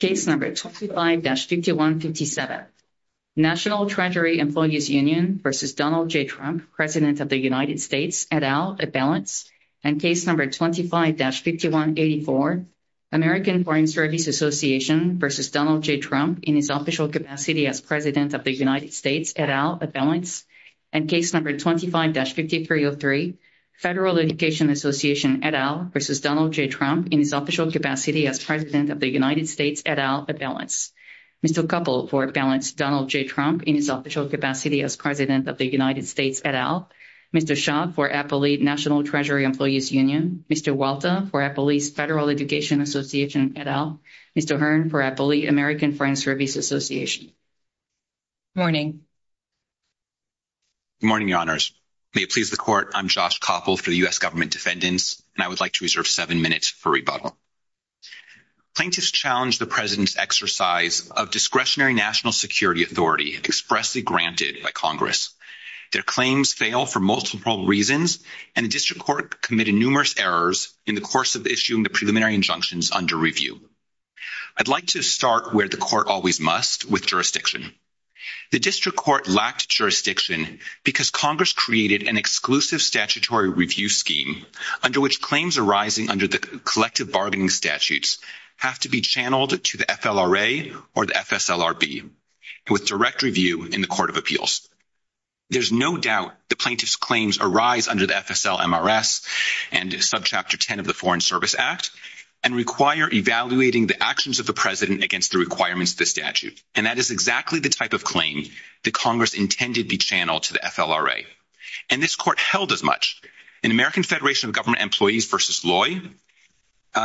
25-5157 National Treasury Employees Union v. Donald J. Trump, President of the United States, et al., et balance. Case No. 25-5184 American Foreign Service Association v. Donald J. Trump, in his official capacity as President of the United States, et al., et balance. And Case No. 25-5303 Federal Education Association, et al., v. Donald J. Trump, in his official capacity as President of the United States, et al., et balance. Mr. Kuppel, for balance, Donald J. Trump, in his official capacity as President of the United States, et al. Mr. Shah, for Applee National Treasury Employees Union. Mr. Walta, for Applee's Federal Education Association, et al. Mr. Hearn, for Applee American Foreign Service Association. Good morning. Good morning, Your Honors. May it please the Court, I'm Josh Kuppel for U.S. Government Defendants, and I would like to reserve seven minutes for rebuttal. Plaintiffs challenge the President's exercise of discretionary national security authority expressly granted by Congress. Their claims fail for multiple reasons, and the District Court committed numerous errors in the course of issuing the preliminary injunctions under review. I'd like to start where the Court always must, with jurisdiction. The District Court lacked jurisdiction because Congress created an exclusive statutory review scheme under which claims arising under the collective bargaining statutes have to be channeled to the FLRA or the FSLRB with direct review in the Court of Appeals. There's no doubt the plaintiff's claims arise under the FSLMRS and subchapter 10 of the Foreign Service Act and require evaluating the actions of the President against the requirements of the statute. And that is exactly the type of claim that Congress intended to channel to the FLRA. And this Court held as much. In American Federation of Government Employees v. Loy,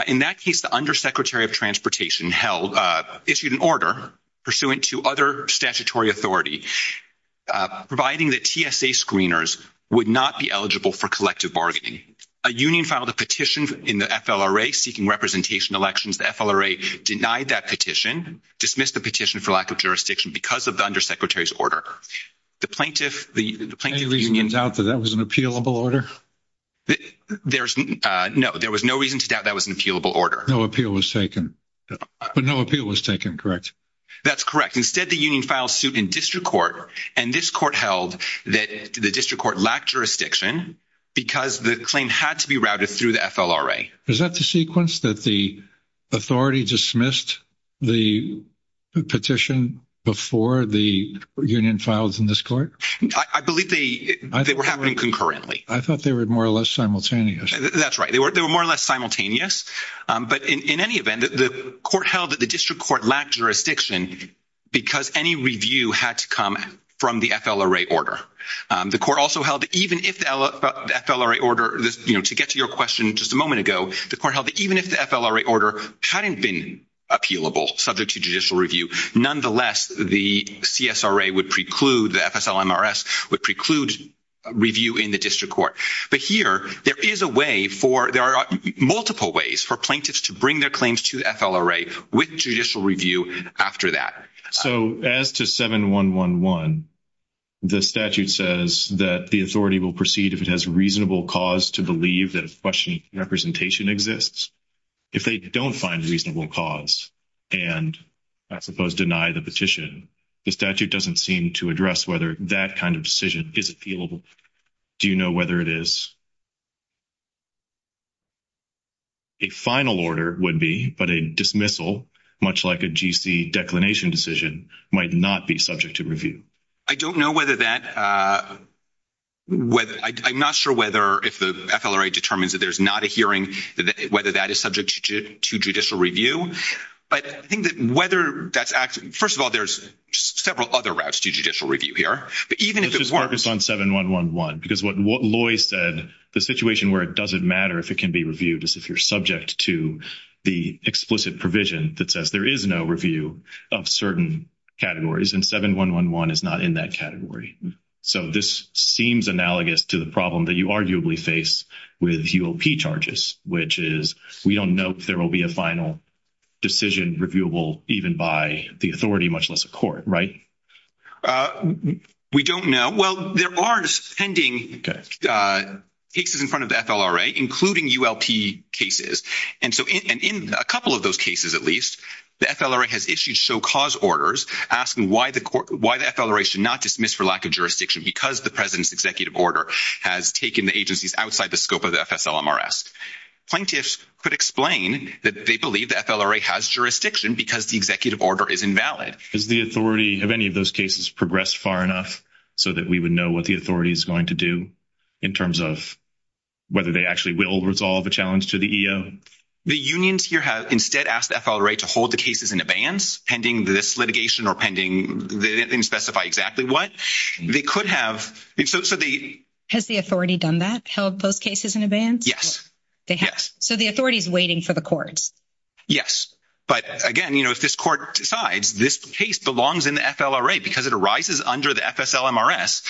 in that case, the Undersecretary of Transportation issued an order pursuant to other statutory authority, providing that TSA screeners would not be eligible for collective bargaining. A union filed a petition in the FLRA seeking representation in elections. The FLRA denied that petition, dismissed the petition for lack of jurisdiction because of the Undersecretary's order. The plaintiff... Any of the unions doubt that that was an appealable order? No, there was no reason to doubt that was an appealable order. No appeal was taken. No appeal was taken, correct. That's correct. Instead, the union filed suit in District Court, and this Court held that the District Court lacked jurisdiction because the claim had to be routed through the FLRA. Is that the sequence that the authority dismissed the petition before the union filed in this Court? I believe they were happening concurrently. I thought they were more or less simultaneous. That's right. They were more or less simultaneous. But in any event, the Court held that the District Court lacked jurisdiction because any review had to come from the FLRA order. The Court also held that even if the FLRA order... You know, to get to your question just a moment ago, the Court held that even if the FLRA order hadn't been appealable subject to judicial review, nonetheless, the CSRA would preclude, the FSLMRS would preclude review in the District Court. But here, there is a way for... There are multiple ways for plaintiffs to bring their claims to the FLRA with judicial review after that. So, as to 7111, the statute says that the authority will proceed if it has reasonable cause to believe that a question of representation exists. If they don't find reasonable cause and, I suppose, deny the petition, the statute doesn't seem to address whether that kind of decision is appealable. Do you know whether it is? A final order would be, but a dismissal, much like a GC declination decision, might not be subject to review. I don't know whether that... I'm not sure whether, if the FLRA determines that there's not a hearing, whether that is subject to judicial review. But I think that whether that's... First of all, there's several other routes to judicial review here. This is focused on 7111, because what Loy said, the situation where it doesn't matter if it can be reviewed is if you're subject to the explicit provision that says there is no review of certain categories, and 7111 is not in that category. So, this seems analogous to the problem that you arguably face with EOP charges, which is we don't know if there will be a final decision reviewable even by the authority, much less the court, right? We don't know. Well, there are suspending cases in front of the FLRA, including ULP cases. And so, in a couple of those cases, at least, the FLRA has issued show cause orders asking why the FLRA should not dismiss for lack of jurisdiction because the president's executive order has taken the agencies outside the scope of the FSLMRS. Plaintiffs could explain that they believe the FLRA has jurisdiction because the executive order is invalid. Has the authority, have any of those cases progressed far enough so that we would know what the authority is going to do in terms of whether they actually will resolve a challenge to the EO? The unions here have instead asked the FLRA to hold the cases in advance pending this litigation or pending, they didn't specify exactly what. They could have, so they... Has the authority done that, held those cases in advance? Yes. So, the authority is waiting for the court. Yes. But, again, you know, if this court decides this case belongs in the FLRA because it arises under the FSLMRS,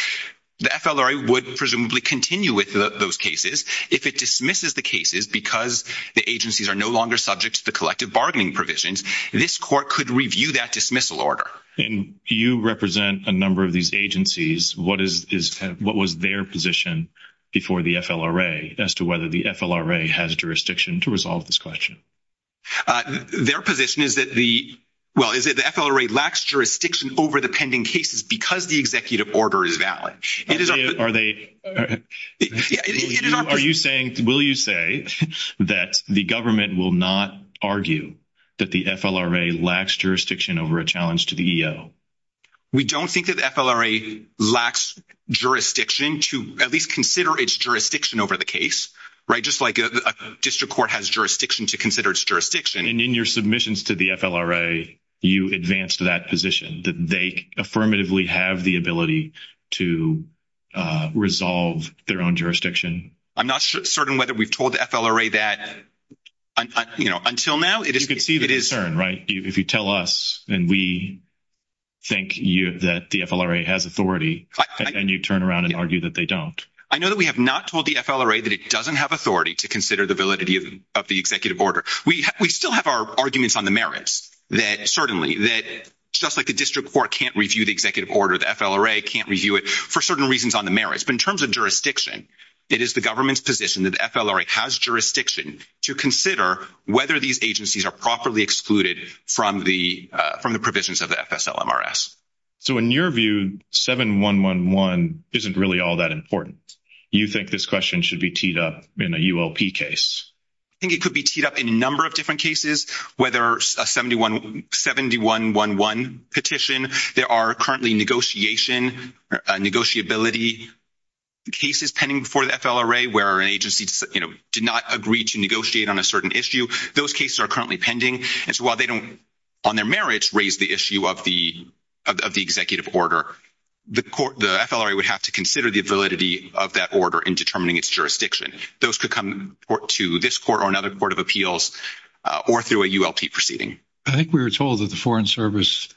the FLRA would presumably continue with those cases. If it dismisses the cases because the agencies are no longer subject to the collective bargaining provisions, this court could review that dismissal order. And do you represent a number of these agencies? What was their position before the FLRA as to whether the FLRA has jurisdiction to resolve this question? Their position is that the, well, is that the FLRA lacks jurisdiction over the pending cases because the executive order is valid. Are they, are you saying, will you say that the government will not argue that the FLRA lacks jurisdiction over a challenge to the EO? We don't think that the FLRA lacks jurisdiction to at least consider its jurisdiction over the case, right? Just like a district court has jurisdiction to consider its jurisdiction. And in your submissions to the FLRA, you advanced that position. Did they affirmatively have the ability to resolve their own jurisdiction? I'm not certain whether we've told the FLRA that, you know, until now. You can see the concern, right? If you tell us and we think that the FLRA has authority and you turn around and argue that they don't. I know that we have not told the FLRA that it doesn't have authority to consider the validity of the executive order. We still have our arguments on the merits that certainly that just like a district court can't review the executive order, the FLRA can't review it for certain reasons on the merits. But in terms of jurisdiction, it is the government's position that the FLRA has jurisdiction to consider whether these agencies are properly excluded from the provisions of the FSLMRS. So in your view, 7111 isn't really all that important. Do you think this question should be teed up in a UOP case? I think it could be teed up in a number of different cases, whether a 7111 petition. There are currently negotiation or negotiability cases pending before the FLRA where agencies, you know, did not agree to negotiate on a certain issue. Those cases are currently pending. And so while they don't, on their merits, raise the issue of the executive order, the FLRA would have to consider the validity of that order in determining its jurisdiction. Those could come to this court or another court of appeals or through a ULP proceeding. I think we were told that the Foreign Service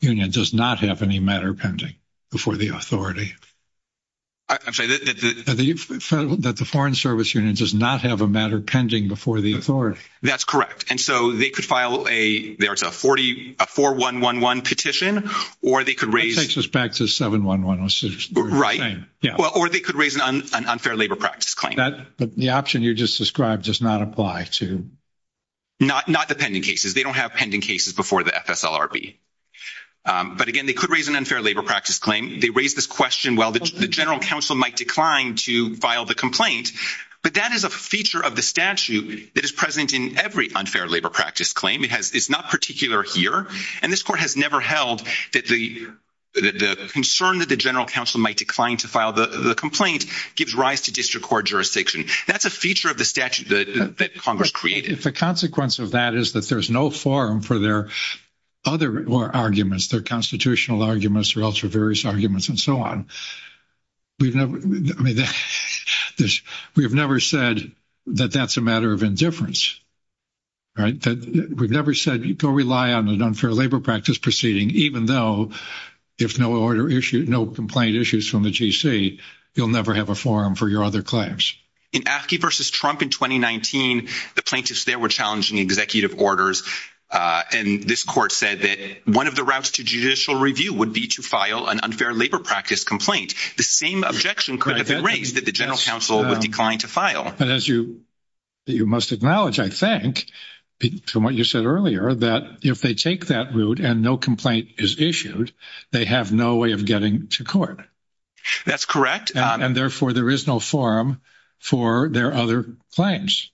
Union does not have any matter pending before the authority. I'm sorry. That the Foreign Service Union does not have a matter pending before the authority. That's correct. And so they could file a, there's a 4111 petition, or they could raise- It takes us back to 7111. Right. Yeah. Or they could raise an unfair labor practice claim. But the option you just described does not apply to- Not the pending cases. They don't have pending cases before the FSLRB. But again, they could raise an unfair labor practice claim. They raise this question while the general counsel might decline to file the complaint. But that is a feature of the statute that is present in every unfair labor practice claim. It's not particular here. And this court has never held that the concern that the general counsel might decline to file the complaint gives rise to district court jurisdiction. That's a feature of the statute that Congress created. If the consequence of that is that there's no forum for their other arguments, their constitutional arguments or also various arguments and so on. We've never said that that's a matter of indifference. We've never said go rely on an unfair labor practice proceeding, even though if no complaint issues from the GC, you'll never have a forum for your other claims. In Askey v. Trump in 2019, the plaintiffs there were challenging executive orders. And this court said that one of the routes to judicial review would be to file an unfair labor practice complaint. The same objection could have been raised that the general counsel would decline to file. But as you must acknowledge, I think, from what you said earlier, that if they take that route and no complaint is issued, they have no way of getting to court. That's correct. And therefore, there is no forum for their other claims.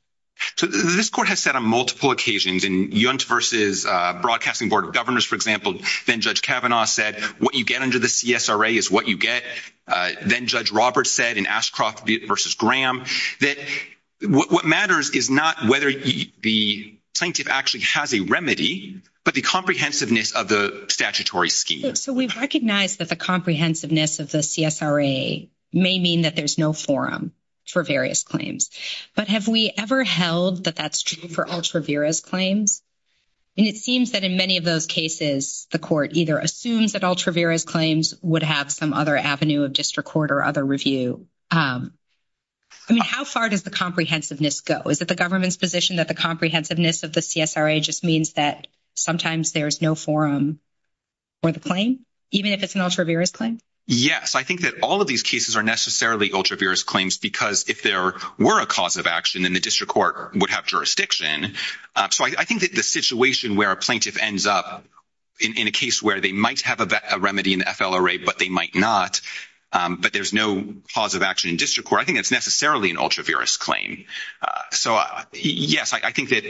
So this court has said on multiple occasions in Yount v. Broadcasting Board of Governors, for example, then Judge Kavanaugh said what you get under the CSRA is what you get. Then Judge Roberts said in Ashcroft v. Graham that what matters is not whether the plaintiff actually has a remedy, but the comprehensiveness of the statutory scheme. So we recognize that the comprehensiveness of the CSRA may mean that there's no forum for various claims. But have we ever held that that's true for ultra vires claims? And it seems that in many of those cases, the court either assumes that ultra vires claims would have some other avenue of district court or other review. I mean, how far does the comprehensiveness go? Is it the government's position that the comprehensiveness of the CSRA just means that sometimes there's no forum for the claim, even if it's an ultra vires claim? Yes, I think that all of these cases are necessarily ultra vires claims because if there were a cause of action, then the district court would have jurisdiction. So I think that the situation where a plaintiff ends up in a case where they might have a remedy in FLRA, but they might not, but there's no cause of action in district court, I think it's necessarily an ultra vires claim. So, yes, I think that,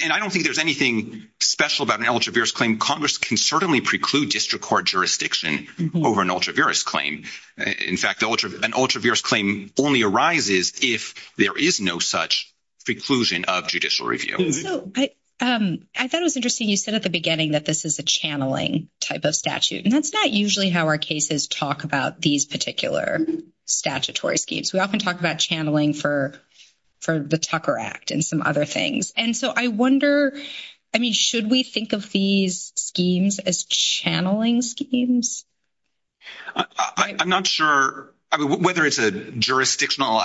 and I don't think there's anything special about an ultra vires claim. Congress can certainly preclude district court jurisdiction over an ultra vires claim. In fact, an ultra vires claim only arises if there is no such preclusion of judicial review. I thought it was interesting you said at the beginning that this is a channeling type of statute. And that's not usually how our cases talk about these particular statutory schemes. We often talk about channeling for the Tucker Act and some other things. And so I wonder, I mean, should we think of these schemes as channeling schemes? I'm not sure whether it's a jurisdictional,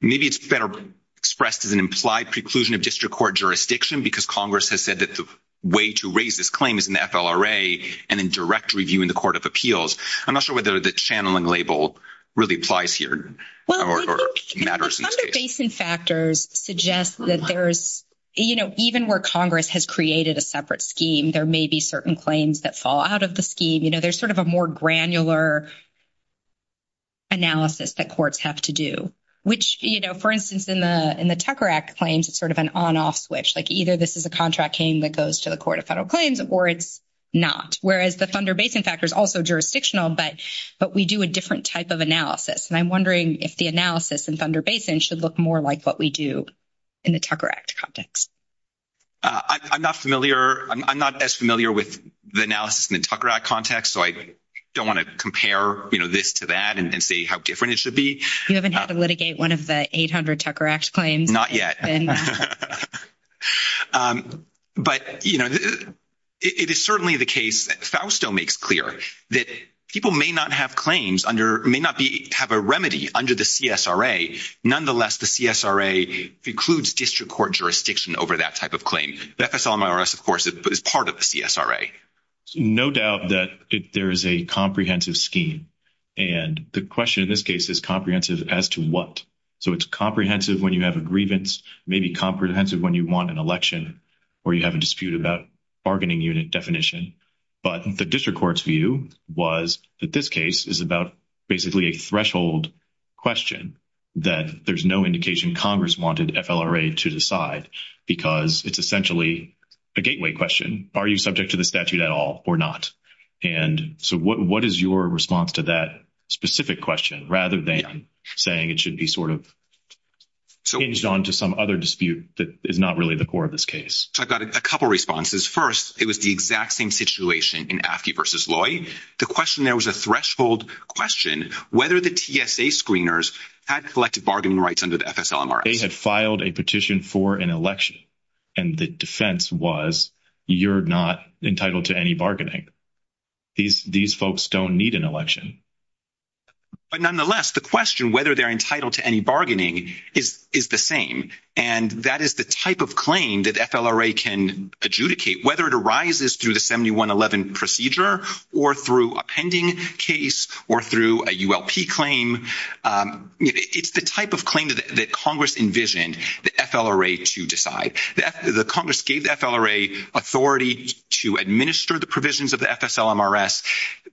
maybe it's better expressed as an implied preclusion of district court jurisdiction because Congress has said that the way to raise this claim is in FLRA and in direct review in the Court of Appeals. I'm not sure whether the channeling label really applies here. Well, I think the Thunder Basin factors suggest that there's, you know, even where Congress has created a separate scheme, there may be certain claims that fall out of the scheme. You know, there's sort of a more granular analysis that courts have to do, which, you know, for instance, in the Tucker Act claims, it's sort of an on-off switch. Like, either this is a contract claim that goes to the Court of Federal Claims or it's not. Whereas the Thunder Basin factor is also jurisdictional, but we do a different type of analysis. And I'm wondering if the analysis in Thunder Basin should look more like what we do in the Tucker Act context. I'm not familiar. I'm not as familiar with the analysis in the Tucker Act context, so I don't want to compare, you know, this to that and see how different it should be. You haven't had to litigate one of the 800 Tucker Act claims? Not yet. But, you know, it is certainly the case that Fausto makes clear that people may not have claims under – may not have a remedy under the CSRA. Nonetheless, the CSRA precludes district court jurisdiction over that type of claim. The FSLM IRS, of course, is part of the CSRA. No doubt that there is a comprehensive scheme. And the question in this case is comprehensive as to what. So it's comprehensive when you have a grievance, maybe comprehensive when you want an election or you have a dispute about bargaining unit definition. But the district court's view was that this case is about basically a threshold question that there's no indication Congress wanted FLRA to decide because it's essentially a gateway question. Are you subject to the statute at all or not? And so what is your response to that specific question rather than saying it should be sort of changed on to some other dispute that is not really the core of this case? So I've got a couple responses. First, it was the exact same situation in Aftey v. Loy. The question there was a threshold question whether the TSA screeners had collective bargaining rights under the FSLM IRS. They had filed a petition for an election, and the defense was you're not entitled to any bargaining. These folks don't need an election. But nonetheless, the question whether they're entitled to any bargaining is the same, and that is the type of claim that FLRA can adjudicate, whether it arises through the 7111 procedure or through a pending case or through a ULP claim. It's the type of claim that Congress envisioned the FLRA to decide. The Congress gave the FLRA authority to administer the provisions of the FSLM IRS.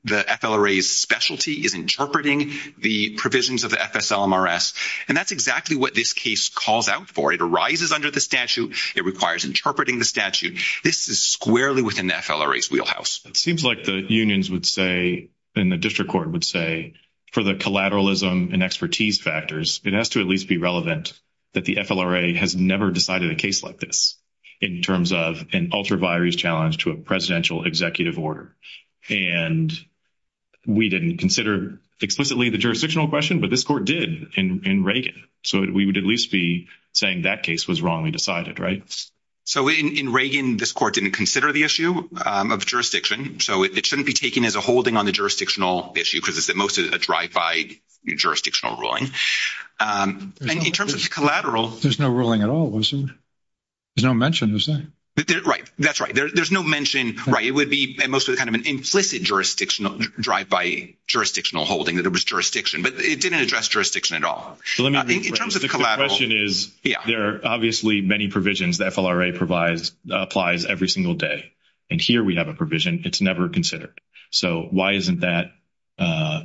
The FLRA's specialty is interpreting the provisions of the FSLM IRS, and that's exactly what this case calls out for. It arises under the statute. It requires interpreting the statute. This is squarely within the FLRA's wheelhouse. It seems like the unions would say, and the district court would say, for the collateralism and expertise factors, it has to at least be relevant that the FLRA has never decided a case like this in terms of an ultraviarious challenge to a presidential executive order. And we didn't consider explicitly the jurisdictional question, but this court did in Reagan. So we would at least be saying that case was wrongly decided, right? So in Reagan, this court didn't consider the issue of jurisdiction. So it shouldn't be taken as a holding on the jurisdictional issue because it's mostly a drive-by jurisdictional ruling. And in terms of collateral... There's no ruling at all, is there? There's no mention, is there? Right. That's right. There's no mention. Right. It would be mostly kind of an implicit drive-by jurisdictional holding that there was jurisdiction, but it didn't address jurisdiction at all. The question is, there are obviously many provisions the FLRA applies every single day. And here we have a provision. It's never considered. So why isn't that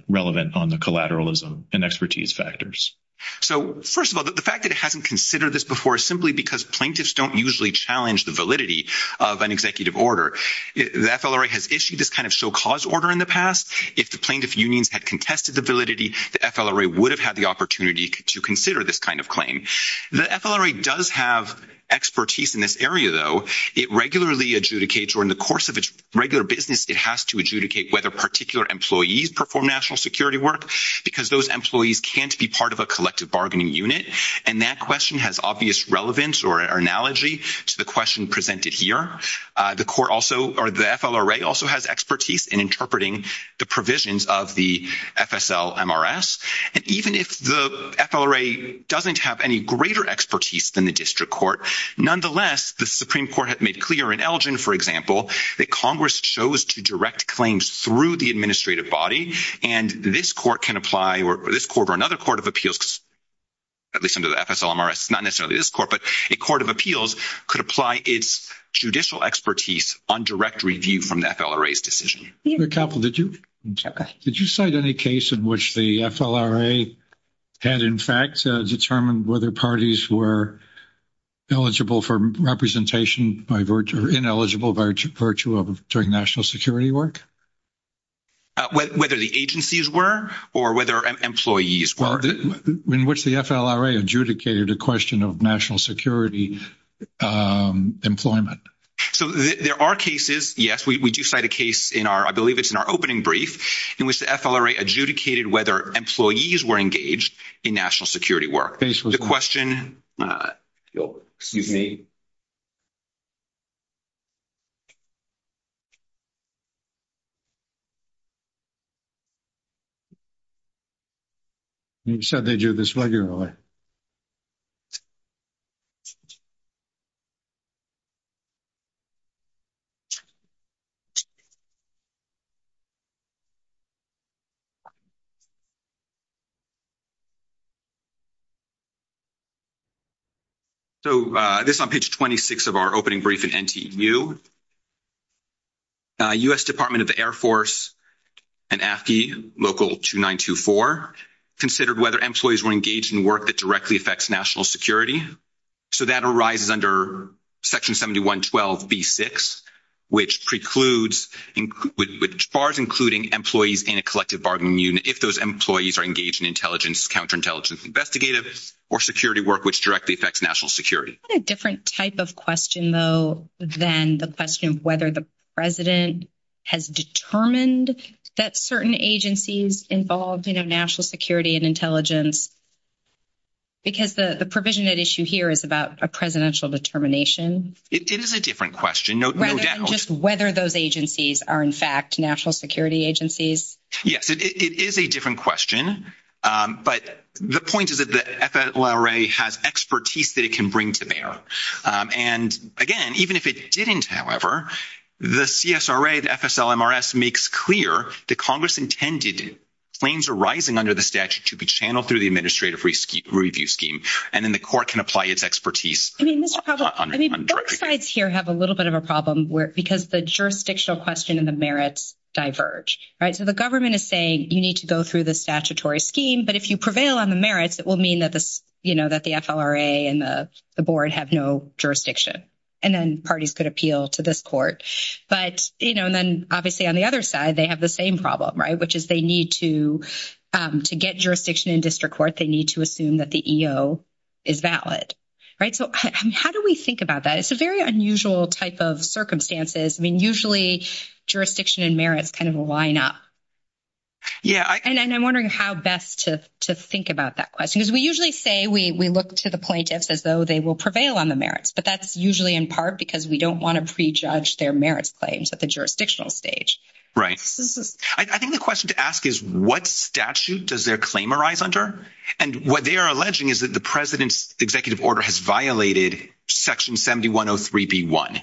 relevant on the collateralism and expertise factors? So, first of all, the fact that it hasn't considered this before is simply because plaintiffs don't usually challenge the validity of an executive order. The FLRA has issued this kind of so-caused order in the past. If the plaintiff unions had contested the validity, the FLRA would have had the opportunity to consider this kind of claim. The FLRA does have expertise in this area, though. It regularly adjudicates, or in the course of its regular business, it has to adjudicate whether particular employees perform national security work because those employees can't be part of a collective bargaining unit. And that question has obvious relevance or analogy to the question presented here. The FLRA also has expertise in interpreting the provisions of the FSL-MRS. And even if the FLRA doesn't have any greater expertise than the district court, nonetheless, the Supreme Court has made clear in Elgin, for example, that Congress chose to direct claims through the administrative body. And this court can apply, or this court or another court of appeals, at least under the FSL-MRS, not necessarily this court, but a court of appeals could apply its judicial expertise on direct review from the FLRA's decision. Mr. Koppel, did you cite any case in which the FLRA has, in fact, determined whether parties were eligible for representation by virtue or ineligible by virtue of doing national security work? Whether the agencies were or whether employees were? In which the FLRA adjudicated a question of national security employment. So, there are cases, yes, we do cite a case in our, I believe it's in our opening brief, in which the FLRA adjudicated whether employees were engaged in national security work. Basically. The question, excuse me. You said they do this regularly. So, this is on page 26 of our opening brief in NTU. U.S. Department of the Air Force and AFI, local 2924, considered whether employees were engaged in work that directly affects national security. So, that arises under Section 7112B6, which precludes, which bars including employees in a collective bargaining unit if those employees are engaged in intelligence, counterintelligence, investigative, or security work which directly affects national security. That's a different type of question, though, than the question of whether the president has determined that certain agencies involved in national security and intelligence, because the provision at issue here is about a presidential determination. It is a different question. Just whether those agencies are, in fact, national security agencies. Yes, it is a different question, but the point is that the FLRA has expertise that it can bring to bear. And, again, even if it didn't, however, the CSRA and FSLMRS makes clear that Congress intended claims arising under the statute to be channeled through the administrative review scheme, and then the court can apply its expertise. I mean, both sides here have a little bit of a problem because the jurisdictional question and the merits diverge. So, the government is saying you need to go through the statutory scheme, but if you prevail on the merits, it will mean that the FLRA and the board have no jurisdiction, and then parties could appeal to this court. But then, obviously, on the other side, they have the same problem, which is they need to get jurisdiction in district court. They need to assume that the EO is valid. So, how do we think about that? It's a very unusual type of circumstances. I mean, usually jurisdiction and merits kind of line up. Yeah. And I'm wondering how best to think about that question. Because we usually say we look to the plaintiffs as though they will prevail on the merits, but that's usually in part because we don't want to prejudge their merits claims at the jurisdictional stage. Right. I think the question to ask is what statute does their claim arise under? And what they are alleging is that the president's executive order has violated Section 7103b1.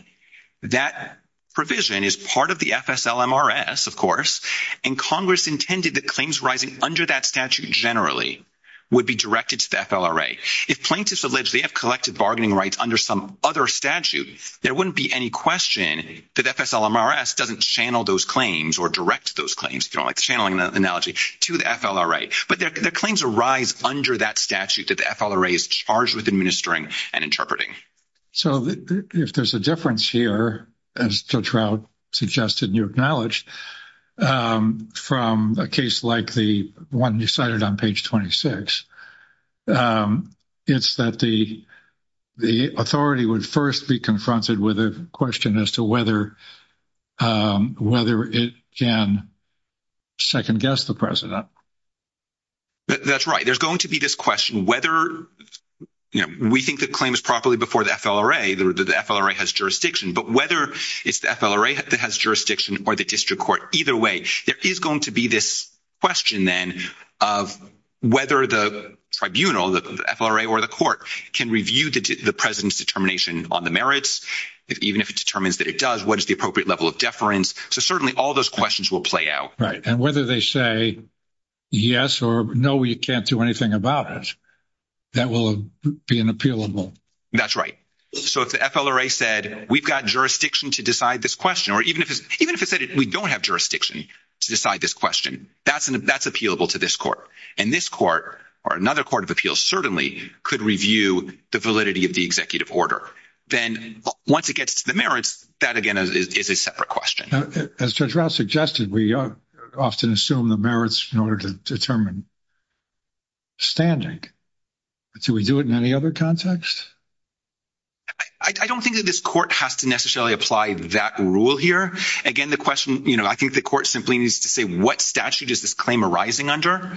That provision is part of the FSLMRS, of course, and Congress intended that claims arising under that statute generally would be directed to the FLRA. If plaintiffs allege they have collected bargaining rights under some other statute, there wouldn't be any question that FSLMRS doesn't channel those claims or direct those claims, like the channeling analogy, to the FLRA. Right. But their claims arise under that statute that the FLRA is charged with administering and interpreting. So, if there's a difference here, as Joe Trout suggested and you acknowledged, from a case like the one you cited on page 26, it's that the authority would first be confronted with a question as to whether it can second guess the president. That's right. There's going to be this question whether, you know, we think the claim is properly before the FLRA, the FLRA has jurisdiction. But whether it's the FLRA that has jurisdiction or the district court, either way, there is going to be this question then of whether the tribunal, the FLRA or the court, can review the president's determination on the merits, even if it determines that it does. What is the appropriate level of deference? So, certainly, all those questions will play out. Right. And whether they say yes or no, we can't do anything about it, that will be an appealable. That's right. So, if the FLRA said, we've got jurisdiction to decide this question, or even if it said we don't have jurisdiction to decide this question, that's appealable to this court. And this court or another court of appeals certainly could review the validity of the executive order. Then, once it gets to the merits, that, again, is a separate question. As Judge Rouse suggested, we often assume the merits in order to determine standing. Do we do it in any other context? I don't think that this court has to necessarily apply that rule here. Again, the question, you know, I think the court simply needs to say what statute is this claim arising under.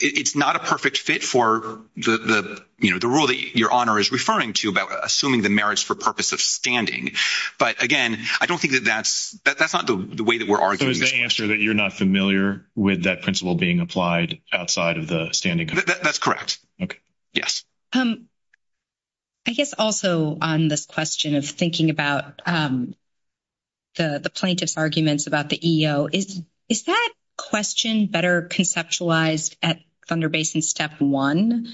It's not a perfect fit for the, you know, the rule that Your Honor is referring to about assuming the merits for purpose of standing. But, again, I don't think that that's – that's not the way that we're arguing. So, it's the answer that you're not familiar with that principle being applied outside of the standing? That's correct. Okay. Yes. I guess also on this question of thinking about the plaintiff's arguments about the EEO, is that question better conceptualized at Thunder Basin Step 1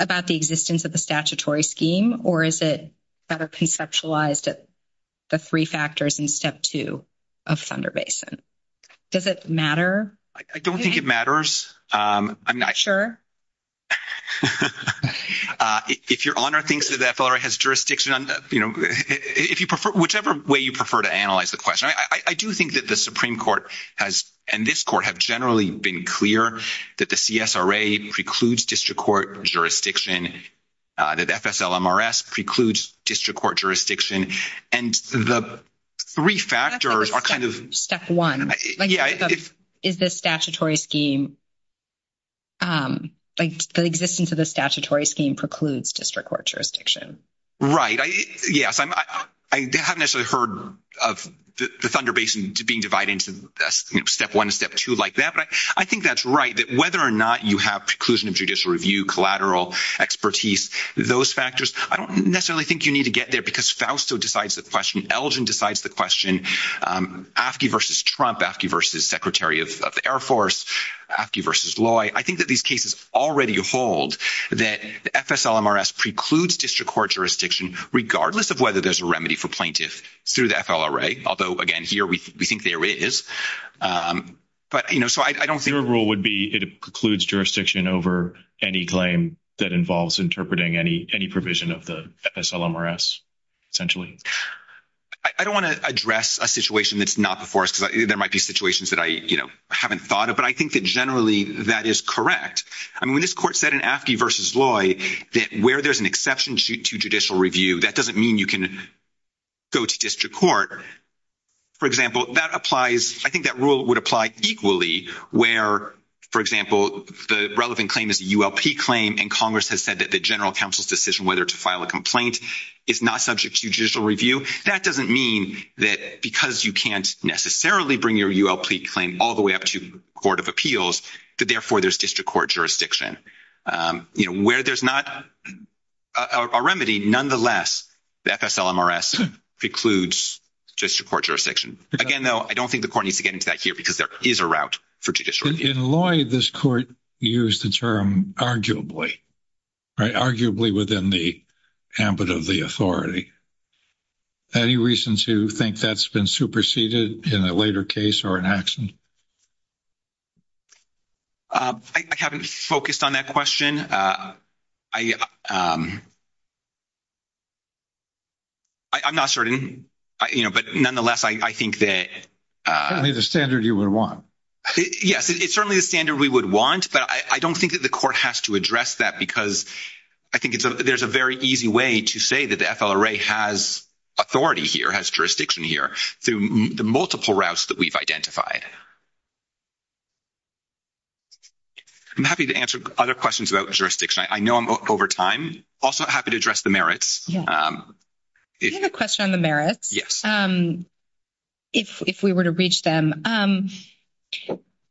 about the existence of the statutory scheme, or is it better conceptualized at the three factors in Step 2 of Thunder Basin? Does it matter? I don't think it matters. I'm not sure. If Your Honor thinks that the FLRA has jurisdiction on, you know, if you prefer – whichever way you prefer to analyze the question, I do think that the Supreme Court has – and this court have generally been clear that the CSRA precludes district court jurisdiction, that FSLMRS precludes district court jurisdiction. And the three factors are kind of – Step 1. Yeah. Is the statutory scheme – like the existence of the statutory scheme precludes district court jurisdiction. Right. Yes. I haven't actually heard of the Thunder Basin being divided into Step 1 and Step 2 like that, but I think that's right, that whether or not you have preclusion of judicial review, collateral, expertise, those factors, I don't necessarily think you need to get there because Fausto decides the question. Elgin decides the question. AFSCME v. Trump, AFSCME v. Secretary of the Air Force, AFSCME v. Loy, I think that these cases already hold that the FSLMRS precludes district court jurisdiction, regardless of whether there's a remedy for plaintiffs through the FLRA, although, again, here we think there is. But, you know, so I don't think – Your rule would be it precludes jurisdiction over any claim that involves interpreting any provision of the FSLMRS, essentially. I don't want to address a situation that's not before us because there might be situations that I, you know, haven't thought of. But I think that generally that is correct. I mean, when this court said in AFSCME v. Loy that where there's an exception to judicial review, that doesn't mean you can go to district court. For example, that applies – I think that rule would apply equally where, for example, the relevant claim is a ULP claim and Congress has said that the general counsel's decision whether to file a complaint is not subject to judicial review. That doesn't mean that because you can't necessarily bring your ULP claim all the way up to court of appeals that, therefore, there's district court jurisdiction. You know, where there's not a remedy, nonetheless, the FSLMRS precludes district court jurisdiction. Again, though, I don't think the court needs to get into that here because there is a route for judicial review. In Loy, this court used the term arguably, right, arguably within the ambit of the authority. Any reason to think that's been superseded in a later case or an action? I haven't focused on that question. I'm not certain, you know, but nonetheless, I think that – It's certainly the standard you would want. Yes, it's certainly the standard we would want, but I don't think that the court has to address that because I think there's a very easy way to say that the FLRA has authority here, has jurisdiction here through the multiple routes that we've identified. I'm happy to answer other questions about jurisdiction. I know I'm over time. Also, I'm happy to address the merits. Do you have a question on the merits? Yes. If we were to reach them, I'm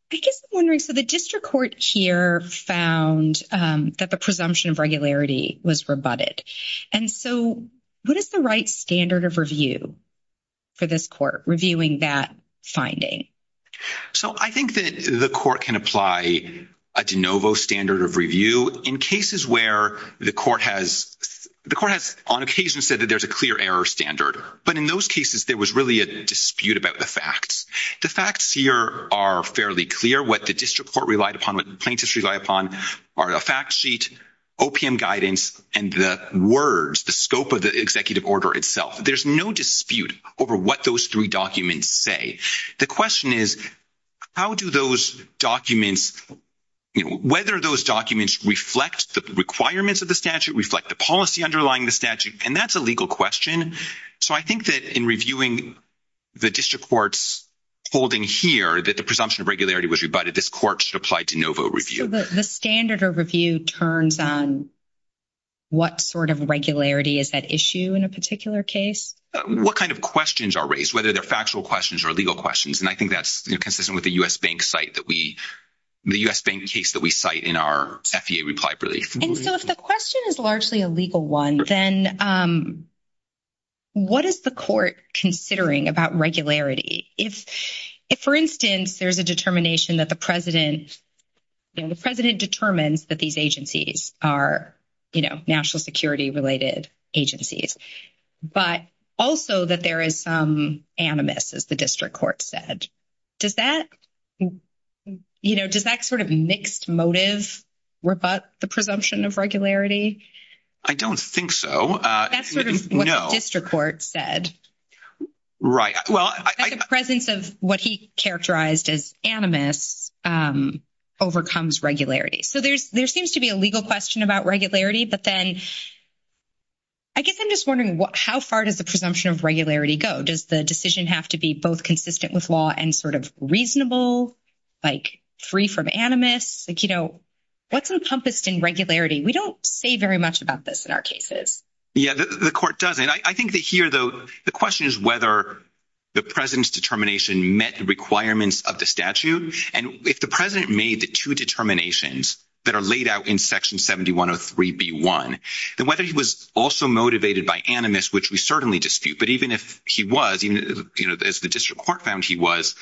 just wondering, so the district court here found that the presumption of regularity was rebutted. And so what is the right standard of review for this court reviewing that finding? So I think that the court can apply a de novo standard of review in cases where the court has – the court has on occasion said that there's a clear error standard. But in those cases, there was really a dispute about the facts. The facts here are fairly clear. What the district court relied upon, what the plaintiffs relied upon are a fact sheet, OPM guidance, and the words, the scope of the executive order itself. There's no dispute over what those three documents say. The question is how do those documents – whether those documents reflect the requirements of the statute, reflect the policy underlying the statute, and that's a legal question. So I think that in reviewing the district court's holding here that the presumption of regularity was rebutted, this court should apply de novo review. So the standard of review turns on what sort of regularity is at issue in a particular case? What kind of questions are raised, whether they're factual questions or legal questions? And I think that's consistent with the U.S. Bank site that we – the U.S. Bank case that we cite in our FEA reply brief. And so if the question is largely a legal one, then what is the court considering about regularity? If, for instance, there's a determination that the president – you know, the president determines that these agencies are, you know, national security related agencies, but also that there is animus, as the district court said, does that – you know, does that sort of mixed motive rebut the presumption of regularity? I don't think so. That's what the district court said. Right. That the presence of what he characterized as animus overcomes regularity. So there seems to be a legal question about regularity, but then I guess I'm just wondering how far does the presumption of regularity go? Does the decision have to be both consistent with law and sort of reasonable, like free from animus? Like, you know, what's encompassed in regularity? We don't say very much about this in our cases. Yeah, the court does. And I think that here, though, the question is whether the president's determination met the requirements of the statute. And if the president made the two determinations that are laid out in Section 7103b.1, then whether he was also motivated by animus, which we certainly dispute, but even if he was, you know, as the district court found he was,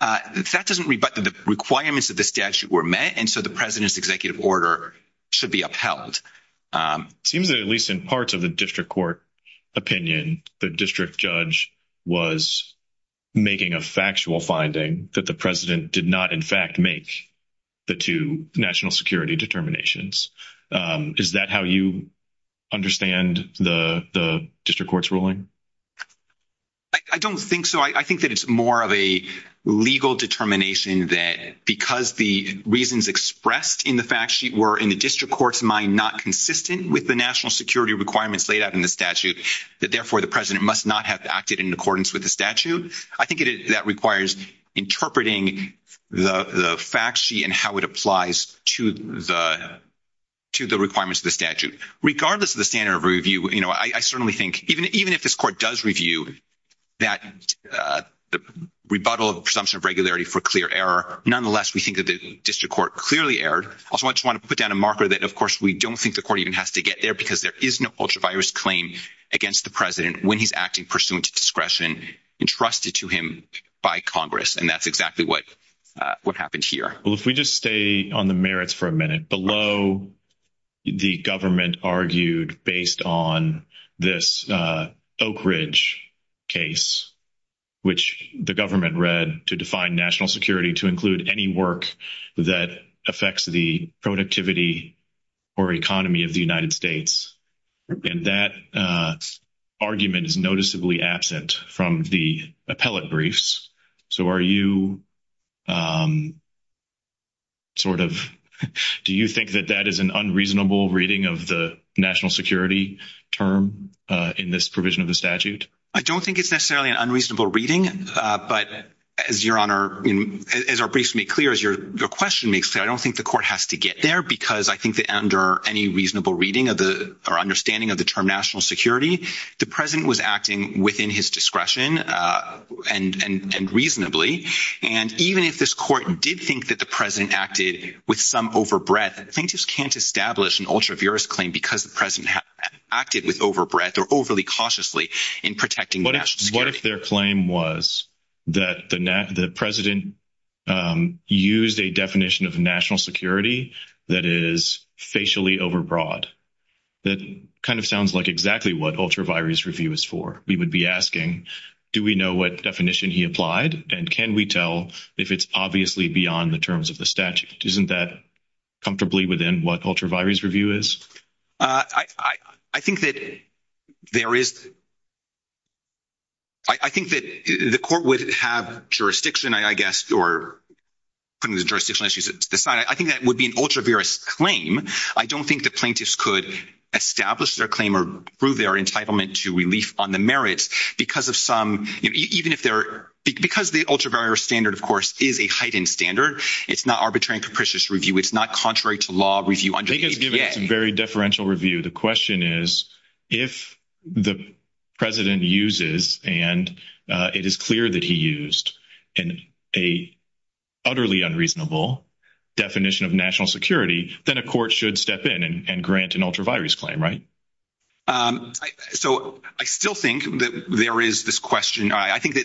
that doesn't rebut the requirements of the statute were met. And so the president's executive order should be upheld. It seems that at least in parts of the district court opinion, the district judge was making a factual finding that the president did not in fact make the two national security determinations. Is that how you understand the district court's ruling? I don't think so. I think that it's more of a legal determination that because the reasons expressed in the fact sheet were in the district court's mind not consistent with the national security requirements laid out in the statute, that therefore the president must not have acted in accordance with the statute. I think it is that requires interpreting the fact sheet and how it applies to the requirements of the statute. Regardless of the standard of review, you know, I certainly think even if this court does review that rebuttal of presumption of regularity for clear error, nonetheless, we think that the district court clearly erred. Also, I just want to put down a marker that, of course, we don't think the court even has to get there because there is no ultra-virus claim against the president when he's acting pursuant to discretion entrusted to him by Congress. And that's exactly what happened here. Well, if we just stay on the merits for a minute, below the government argued based on this Oak Ridge case, which the government read to define national security to include any work that affects the productivity or economy of the United States. And that argument is noticeably absent from the appellate briefs. So are you sort of – do you think that that is an unreasonable reading of the national security term in this provision of the statute? I don't think it's necessarily an unreasonable reading. But as Your Honor – as our briefs make clear, as your question makes clear, I don't think the court has to get there because I think that under any reasonable reading or understanding of the term national security, the president was acting within his discretion and reasonably. And even if this court did think that the president acted with some overbreath, I think you can't establish an ultra-virus claim because the president acted with overbreath or overly cautiously in protecting national security. What if their claim was that the president used a definition of national security that is facially overbroad? That kind of sounds like exactly what ultra-virus review is for. We would be asking, do we know what definition he applied and can we tell if it's obviously beyond the terms of the statute? Isn't that comfortably within what ultra-virus review is? I think that there is – I think that the court would have jurisdiction, I guess, or putting the jurisdiction issues aside. I think that would be an ultra-virus claim. I don't think the plaintiffs could establish their claim or prove their entitlement to relief on the merits because of some – even if they're – because the ultra-virus standard, of course, is a heightened standard. It's not arbitrary and capricious review. It's not contrary to law review. I think it's giving us a very deferential review. The question is if the president uses and it is clear that he used an utterly unreasonable definition of national security, then a court should step in and grant an ultra-virus claim, right? So, I still think that there is this question. I think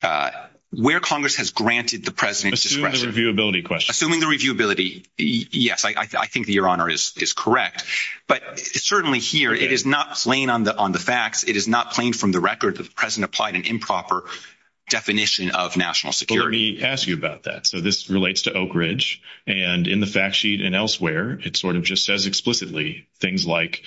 that where Congress has granted the president's discretion – Assuming the reviewability question. Assuming the reviewability. Yes, I think Your Honor is correct. But certainly here, it is not plain on the facts. It is not plain from the record that the president applied an improper definition of national security. Let me ask you about that. So, this relates to Oak Ridge. And in the fact sheet and elsewhere, it sort of just says explicitly things like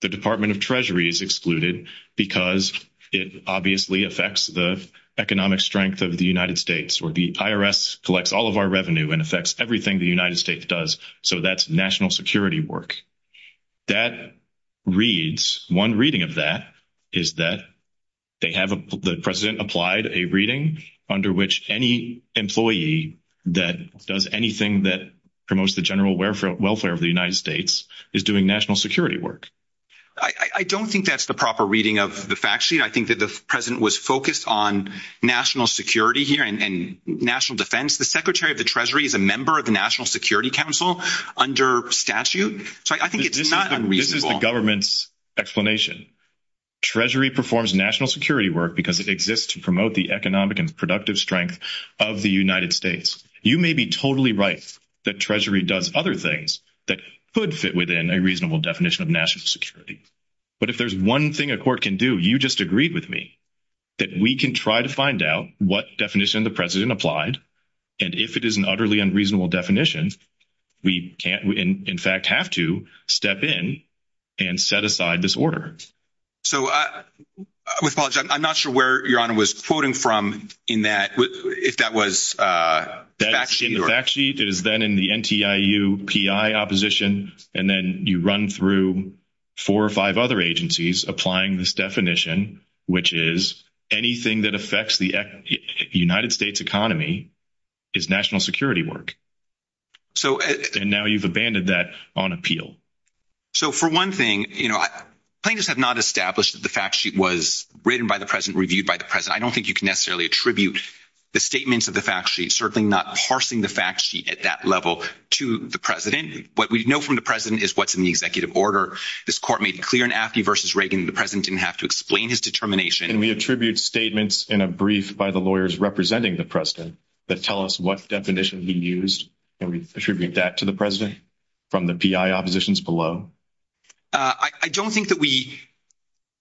the Department of Treasury is excluded because it obviously affects the economic strength of the United States. Or the IRS collects all of our revenue and affects everything the United States does. So, that's national security work. That reads – one reading of that is that they have – the president applied a reading under which any employee that does anything that promotes the general welfare of the United States is doing national security work. I don't think that's the proper reading of the fact sheet. I think that the president was focused on national security here and national defense. The Secretary of the Treasury is a member of the National Security Council under statute. So, I think it's not unreasonable. This is the government's explanation. Treasury performs national security work because it exists to promote the economic and productive strength of the United States. You may be totally right that Treasury does other things that could fit within a reasonable definition of national security. But if there's one thing a court can do, you just agreed with me, that we can try to find out what definition the president applied. And if it is an utterly unreasonable definition, we can't – in fact, have to step in and set aside this order. So, I apologize. I'm not sure where Your Honor was quoting from in that – if that was fact sheet or – applying this definition, which is anything that affects the United States economy is national security work. And now you've abandoned that on appeal. So, for one thing, plaintiffs have not established that the fact sheet was written by the president, reviewed by the president. I don't think you can necessarily attribute the statements of the fact sheet, certainly not parsing the fact sheet at that level to the president. What we know from the president is what's in the executive order. This court made clear in Aftey v. Reagan the president didn't have to explain his determination. Can we attribute statements in a brief by the lawyers representing the president that tell us what definition he used? Can we attribute that to the president from the PI oppositions below? I don't think that we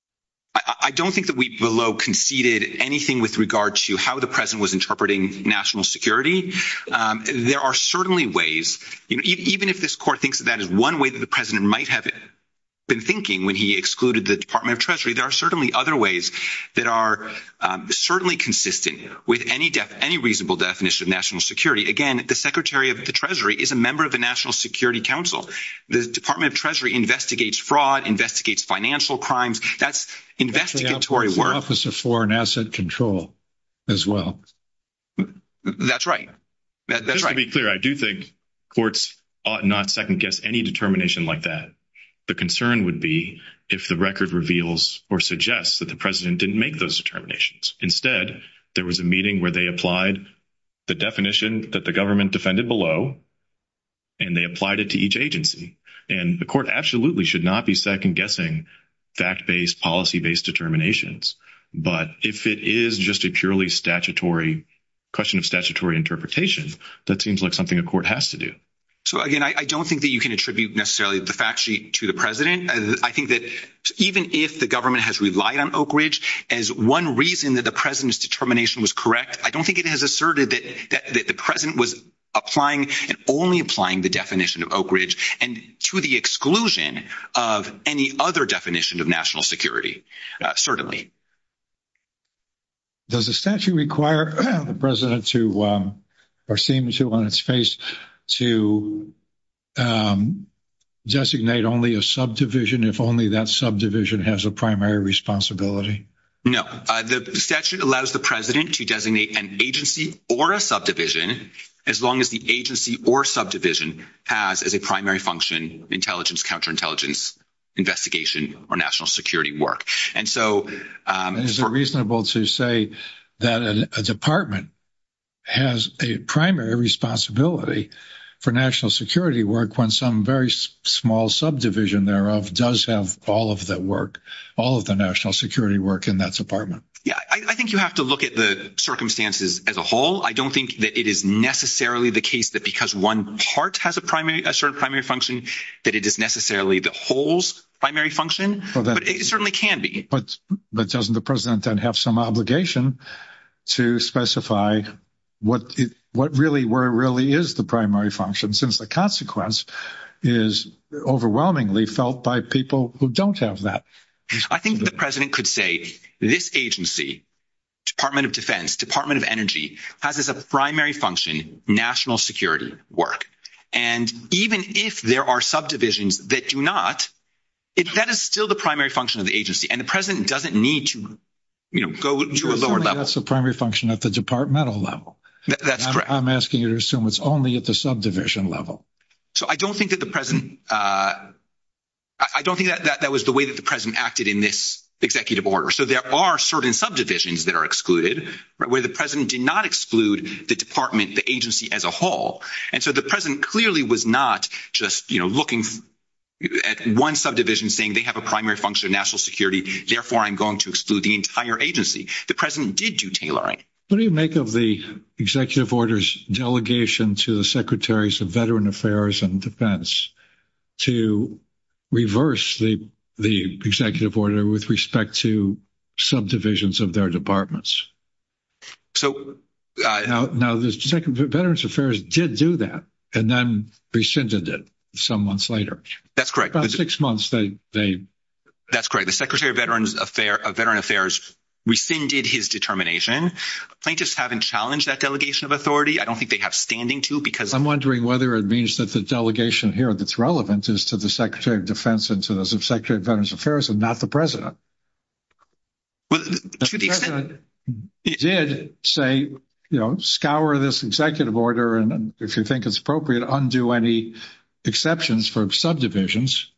– I don't think that we below conceded anything with regard to how the president was interpreting national security. There are certainly ways – even if this court thinks that that is one way that the president might have been thinking when he excluded the Department of Treasury, there are certainly other ways that are certainly consistent with any reasonable definition of national security. Again, the Secretary of the Treasury is a member of the National Security Council. The Department of Treasury investigates fraud, investigates financial crimes. That's investigatory work. That's the Office of Foreign Asset Control as well. That's right. That's right. Just to be clear, I do think courts ought not second-guess any determination like that. The concern would be if the record reveals or suggests that the president didn't make those determinations. Instead, there was a meeting where they applied the definition that the government defended below, and they applied it to each agency. And the court absolutely should not be second-guessing fact-based, policy-based determinations. But if it is just a purely question of statutory interpretation, that seems like something a court has to do. So, again, I don't think that you can attribute necessarily the fact sheet to the president. I think that even if the government has relied on Oak Ridge as one reason that the president's determination was correct, I don't think it has asserted that the president was applying and only applying the definition of Oak Ridge and to the exclusion of any other definition of national security, certainly. Does the statute require the president to, or seems to on its face, to designate only a subdivision if only that subdivision has a primary responsibility? No. The statute allows the president to designate an agency or a subdivision as long as the agency or subdivision has as a primary function intelligence, counterintelligence, investigation, or national security work. Is it reasonable to say that a department has a primary responsibility for national security work when some very small subdivision thereof does have all of the work, all of the national security work in that department? Yeah. I think you have to look at the circumstances as a whole. I don't think that it is necessarily the case that because one part has a certain primary function that it is necessarily the whole's primary function. It certainly can be. But doesn't the president then have some obligation to specify what really, where it really is the primary function, since the consequence is overwhelmingly felt by people who don't have that? I think the president could say this agency, Department of Defense, Department of Energy, has as a primary function national security work. And even if there are subdivisions that do not, that is still the primary function of the agency. And the president doesn't need to, you know, go to a lower level. That's the primary function at the departmental level. That's correct. I'm asking you to assume it's only at the subdivision level. So I don't think that the president, I don't think that that was the way that the president acted in this executive order. So there are certain subdivisions that are excluded where the president did not exclude the department, the agency as a whole. And so the president clearly was not just, you know, looking at one subdivision saying they have a primary function of national security. Therefore, I'm going to exclude the entire agency. The president did do tailoring. What do you make of the executive order's delegation to the secretaries of veteran affairs and defense to reverse the executive order with respect to subdivisions of their departments? So. Now, the veterans affairs did do that and then rescinded it some months later. That's correct. About six months they. That's correct. The secretary of veterans affairs rescinded his determination. Plaintiffs haven't challenged that delegation of authority. I don't think they have standing to because. I'm wondering whether it means that the delegation here that's relevant is to the secretary of defense and to the secretary of veterans affairs and not the president. He did say, you know, scour this executive order, and if you think it's appropriate, undo any exceptions for subdivisions.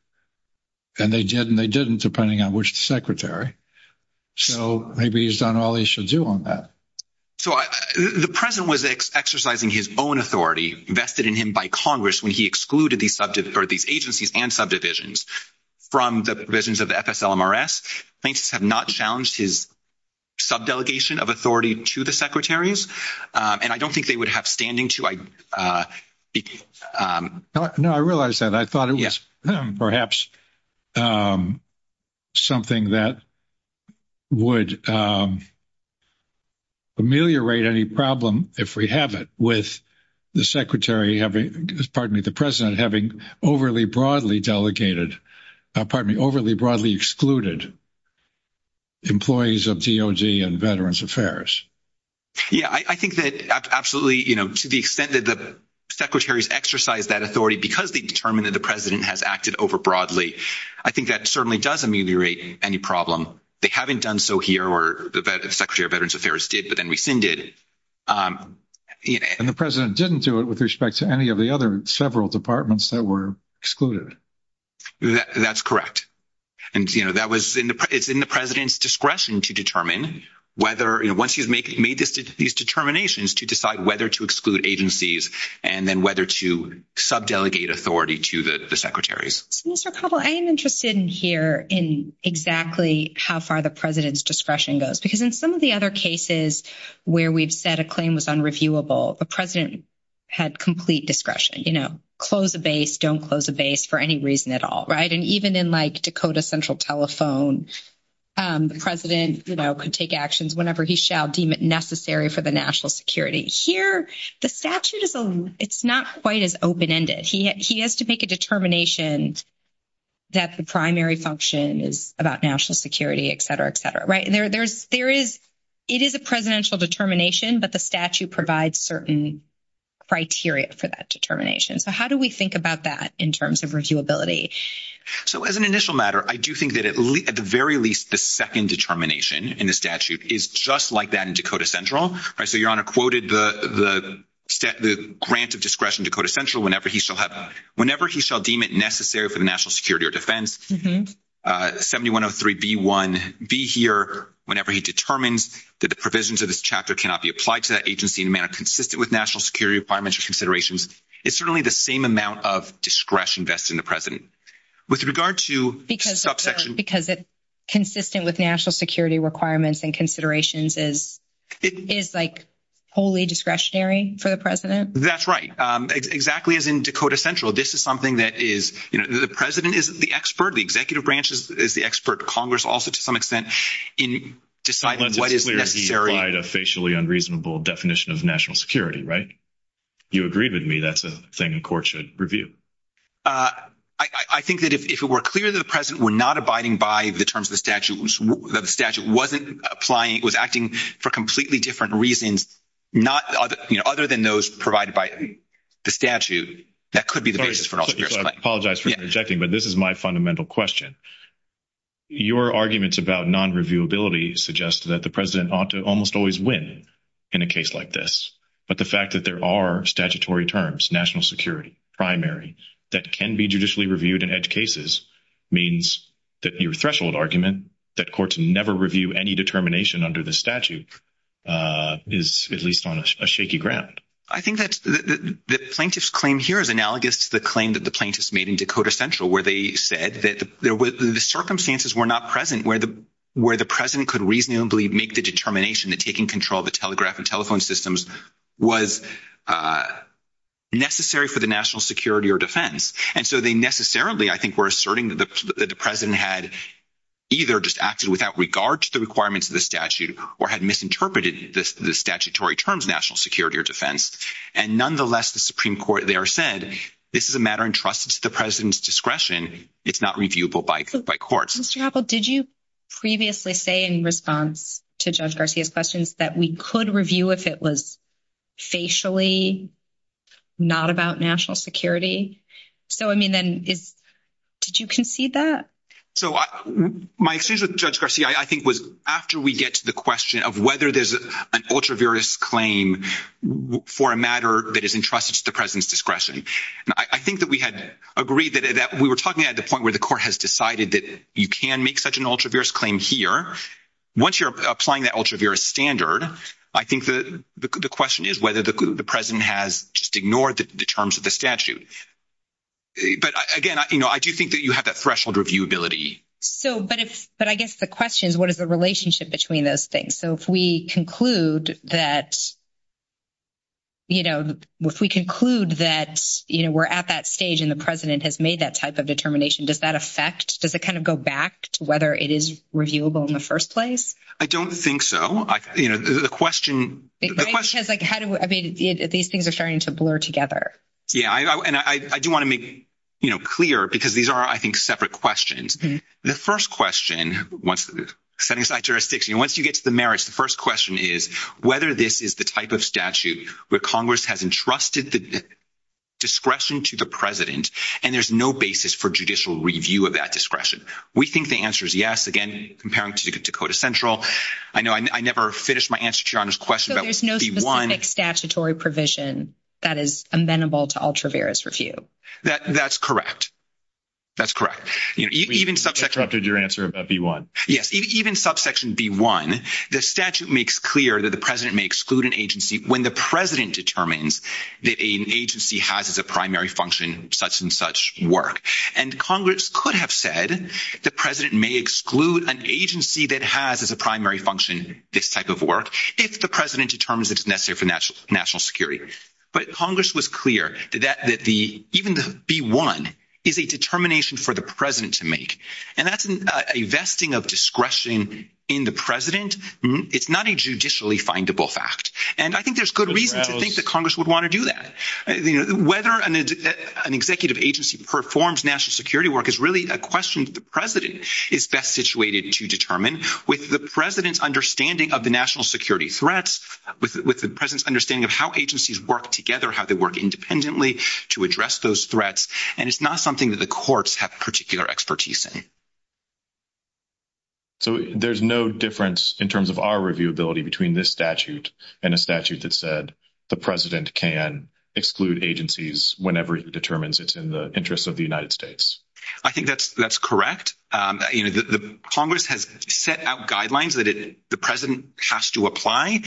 And they did, and they didn't depending on which secretary. So, maybe he's done all he should do on that. So, the president was exercising his own authority invested in him by Congress when he excluded the subject for these agencies and subdivisions. From the visions of the, thanks have not challenged his. Subdelegation of authority to the secretaries, and I don't think they would have standing to. No, I realized that I thought it was perhaps something that would ameliorate any problem. If we have it with the secretary having, pardon me, the president having overly broadly delegated pardon me, overly broadly excluded. Employees of and veterans affairs. Yeah, I think that absolutely, you know, to the extent that the secretaries exercise that authority, because they determined that the president has acted over broadly. I think that certainly does ameliorate any problem. They haven't done so here, or the secretary of veterans affairs did, but then rescinded. And the president didn't do it with respect to any of the other several departments that were excluded. That's correct. And, you know, that was in the, it's in the president's discretion to determine whether once you've made these determinations to decide whether to exclude agencies and then whether to sub delegate authority to the secretaries. I'm interested in here in exactly how far the president's discretion goes, because in some of the other cases where we've set a claim with unreviewable, the president. Had complete discretion, you know, close the base don't close the base for any reason at all. Right? And even in, like, Dakota central telephone. The president could take actions whenever he shall deem it necessary for the national security here. The statute is it's not quite as open ended. He has to make a determination. That's the primary function is about national security, et cetera, et cetera. Right? And there's, there is. It is a presidential determination, but the statute provides certain criteria for that determination. So how do we think about that in terms of review ability? So, as an initial matter, I do think that at the very least, the 2nd determination in the statute is just like that in Dakota central. So, your honor quoted the grant of discretion Dakota central whenever he shall have whenever he shall deem it necessary for the national security or defense 7103B1B here. Whenever he determines that the provisions of this chapter cannot be applied to that agency in a manner consistent with national security requirements considerations. It's certainly the same amount of discretion that's in the president with regard to each subsection because it's consistent with national security requirements and considerations. And it's like, wholly discretionary for the president. That's right. Exactly. As in Dakota central. This is something that is the president is the expertly executive branches is the expert Congress. Also, to some extent in deciding what is necessary facially unreasonable definition of national security. Right? You agree with me that's a thing in court should review. I think that if we're clear that the president, we're not abiding by the terms of the statute. The statute wasn't applying was acting for completely different reasons. Other than those provided by the statute, that could be the basis for all. I apologize for interjecting, but this is my fundamental question. Your arguments about non reviewability suggests that the president ought to almost always win in a case like this. But the fact that there are statutory terms, national security primary that can be judicially reviewed in edge cases means that your threshold argument that courts never review any determination under the statute is at least on a shaky ground. I think that the plaintiffs claim here is analogous to the claim that the plaintiffs made in Dakota central where they said that there was the circumstances were not present where the where the president could reasonably make the determination that taking control of the telegraph and telephone systems was necessary for the national security or defense. And so they necessarily, I think, we're asserting that the president had either just acted without regard to the requirements of the statute or had misinterpreted the statutory terms, national security or defense. And nonetheless, the Supreme Court there said, this is a matter entrusted to the president's discretion. It's not reviewable by courts. Mr. Apple, did you previously say in response to judge Garcia's questions that we could review if it was. Facially, not about national security. So, I mean, then it's. Did you can see that? So my excuse with judge Garcia, I think was after we get to the question of whether there's an ultra various claim for a matter that is entrusted to the president's discretion. I think that we had agreed that we were talking at the point where the court has decided that you can make such an ultra various claim here. Once you're applying that ultra various standard, I think the question is whether the president has just ignored the terms of the statute. But again, I do think that you have that threshold review ability. So, but it's, but I guess the question is, what is the relationship between those things? So, if we conclude that. You know, if we conclude that we're at that stage, and the president has made that type of determination, does that affect does it kind of go back to whether it is reviewable in the 1st place? I don't think so. The question is, how do these things are starting to blur together? Yeah, and I do want to make clear because these are, I think, separate questions. The 1st question, once you get to the merits, the 1st question is whether this is the type of statute where Congress has entrusted. Discretion to the president, and there's no basis for judicial review of that discretion. We think the answer is yes. Again, comparing to Dakota Central. I know I never finished my answer to your question. So, there's no statutory provision that is amenable to ultra various review. That's correct. That's correct. You interrupted your answer about the 1. yes, even subsection be 1. the statute makes clear that the president may exclude an agency when the president determines the agency has as a primary function such and such work. And Congress could have said the president may exclude an agency that has as a primary function this type of work if the president determines it's necessary for national security. But Congress was clear that the even the 1 is a determination for the president to make, and that's a vesting of discretion in the president. It's not a judicially findable fact. And I think there's good reason to think that Congress would want to do that. Whether an executive agency performs national security work is really a question. The president is best situated to determine with the president's understanding of the national security threats with the president's understanding of how agencies work together, how they work independently to address those threats. And it's not something that the courts have particular expertise in. So, there's no difference in terms of our reviewability between this statute and a statute that said the president can exclude agencies whenever it determines it's in the interest of the United States. I think that's correct. Congress has set out guidelines that the president has to apply.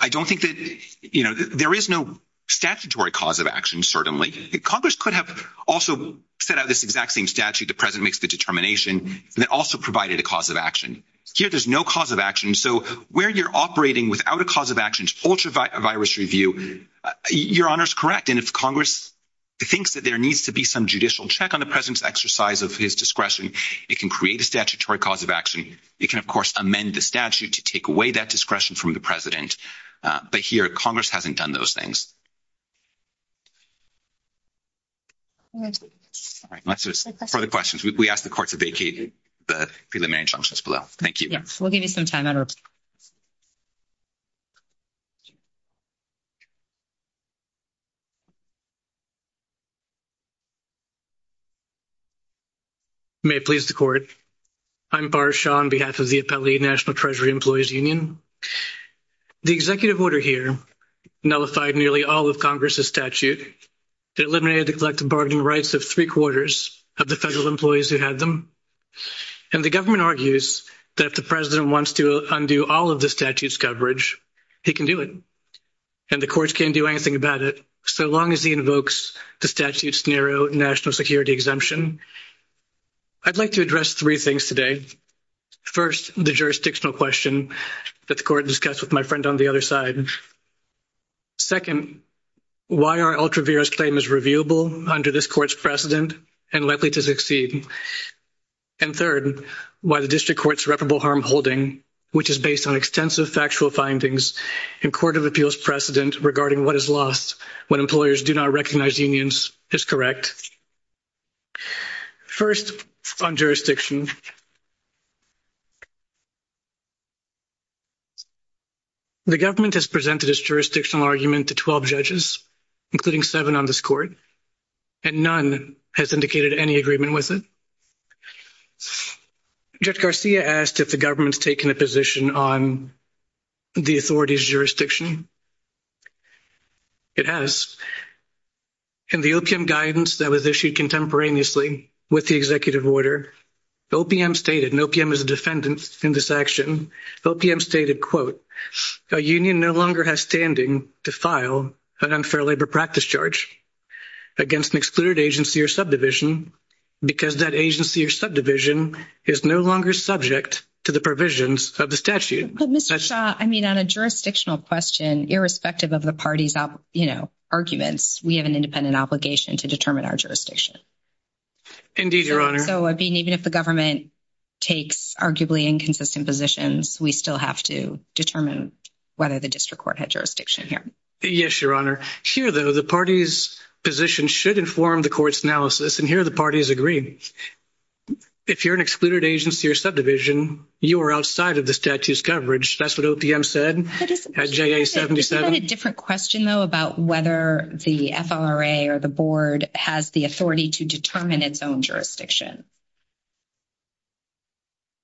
I don't think that there is no statutory cause of action, certainly. Congress could have also set out this exact same statute the president makes the determination that also provided a cause of action. Here, there's no cause of action. It can create a statutory cause of action. It can, of course, amend the statute to take away that discretion from the president. But here, Congress hasn't done those things. Further questions? We ask the courts to vacate the preliminary instructions below. Thank you. Yes. I'm Bar Shah on behalf of the Appellee National Treasury Employees Union. The executive order here nullified nearly all of Congress's statute. It eliminated the collective bargaining rights of three-quarters of the federal employees who had them. And the government argues that if the president wants to undo all of the statute's coverage, he can do it. And the courts can't do anything about it so long as he invokes the statute's narrow national security exemption. I'd like to address three things today. First, the jurisdictional question that the court discussed with my friend on the other side. Second, why our ultraviarious claim is reviewable under this court's precedent and likely to succeed. And third, why the district court's reputable harm holding, which is based on extensive factual findings in court of appeals precedent regarding what is lost when employers do not recognize unions, is correct. First, on jurisdiction. The government has presented its jurisdictional argument to 12 judges, including seven on this court, and none has indicated any agreement with it. Judge Garcia asked if the government's taken a position on the authority's jurisdiction. It has. In the OPM guidance that was issued contemporaneously with the executive order, OPM stated, and OPM is a defendant in this action, OPM stated, quote, a union no longer has standing to file an unfair labor practice charge against an excluded agency or subdivision because that agency or subdivision is no longer subject to the provisions of the statute. But Mr. Shaw, I mean, on a jurisdictional question, irrespective of the party's, you know, arguments, we have an independent obligation to determine our jurisdiction. Indeed, Your Honor. So even if the government takes arguably inconsistent positions, we still have to determine whether the district court had jurisdiction here. Yes, Your Honor. Here, though, the party's position should inform the court's analysis, and here the party is agreeing. If you're an excluded agency or subdivision, you are outside of the statute's coverage. That's what OPM said at JA-77. Is that a different question, though, about whether the FRA or the board has the authority to determine its own jurisdiction?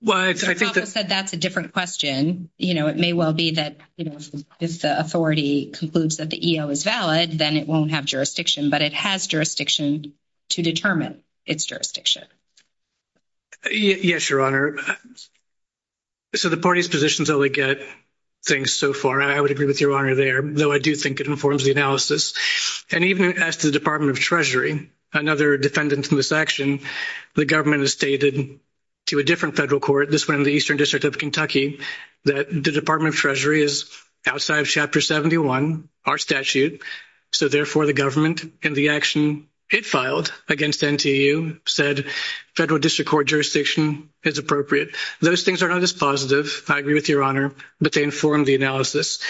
Well, I think that's a different question. You know, it may well be that, you know, if the authority concludes that the EO is valid, then it won't have jurisdiction. But it has jurisdiction to determine its jurisdiction. Yes, Your Honor. So the party's positions only get things so far. I would agree with Your Honor there, though I do think it informs the analysis. And even as to the Department of Treasury, another defendant in this action, the government has stated to a different federal court, this one in the Eastern District of Kentucky, that the Department of Treasury is outside of Chapter 71, our statute. So, therefore, the government, in the action it filed against NTU, said federal district court jurisdiction is appropriate. Those things are not as positive, I agree with Your Honor, but they inform the analysis.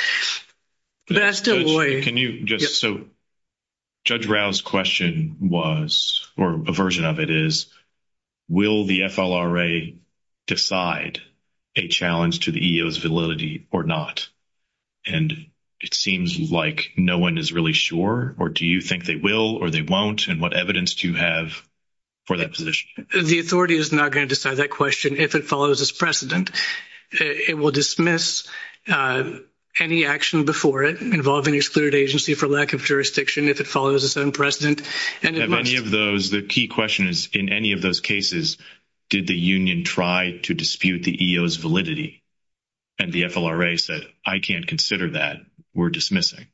So Judge Rau's question was, or a version of it is, will the FLRA decide a challenge to the EO's validity or not? And it seems like no one is really sure, or do you think they will or they won't, and what evidence do you have for that position? The authority is not going to decide that question if it follows its precedent. It will dismiss any action before it involving an excluded agency for lack of jurisdiction if it follows its own precedent. The key question is, in any of those cases, did the union try to dispute the EO's validity? And the FLRA said, I can't consider that. We're dismissing.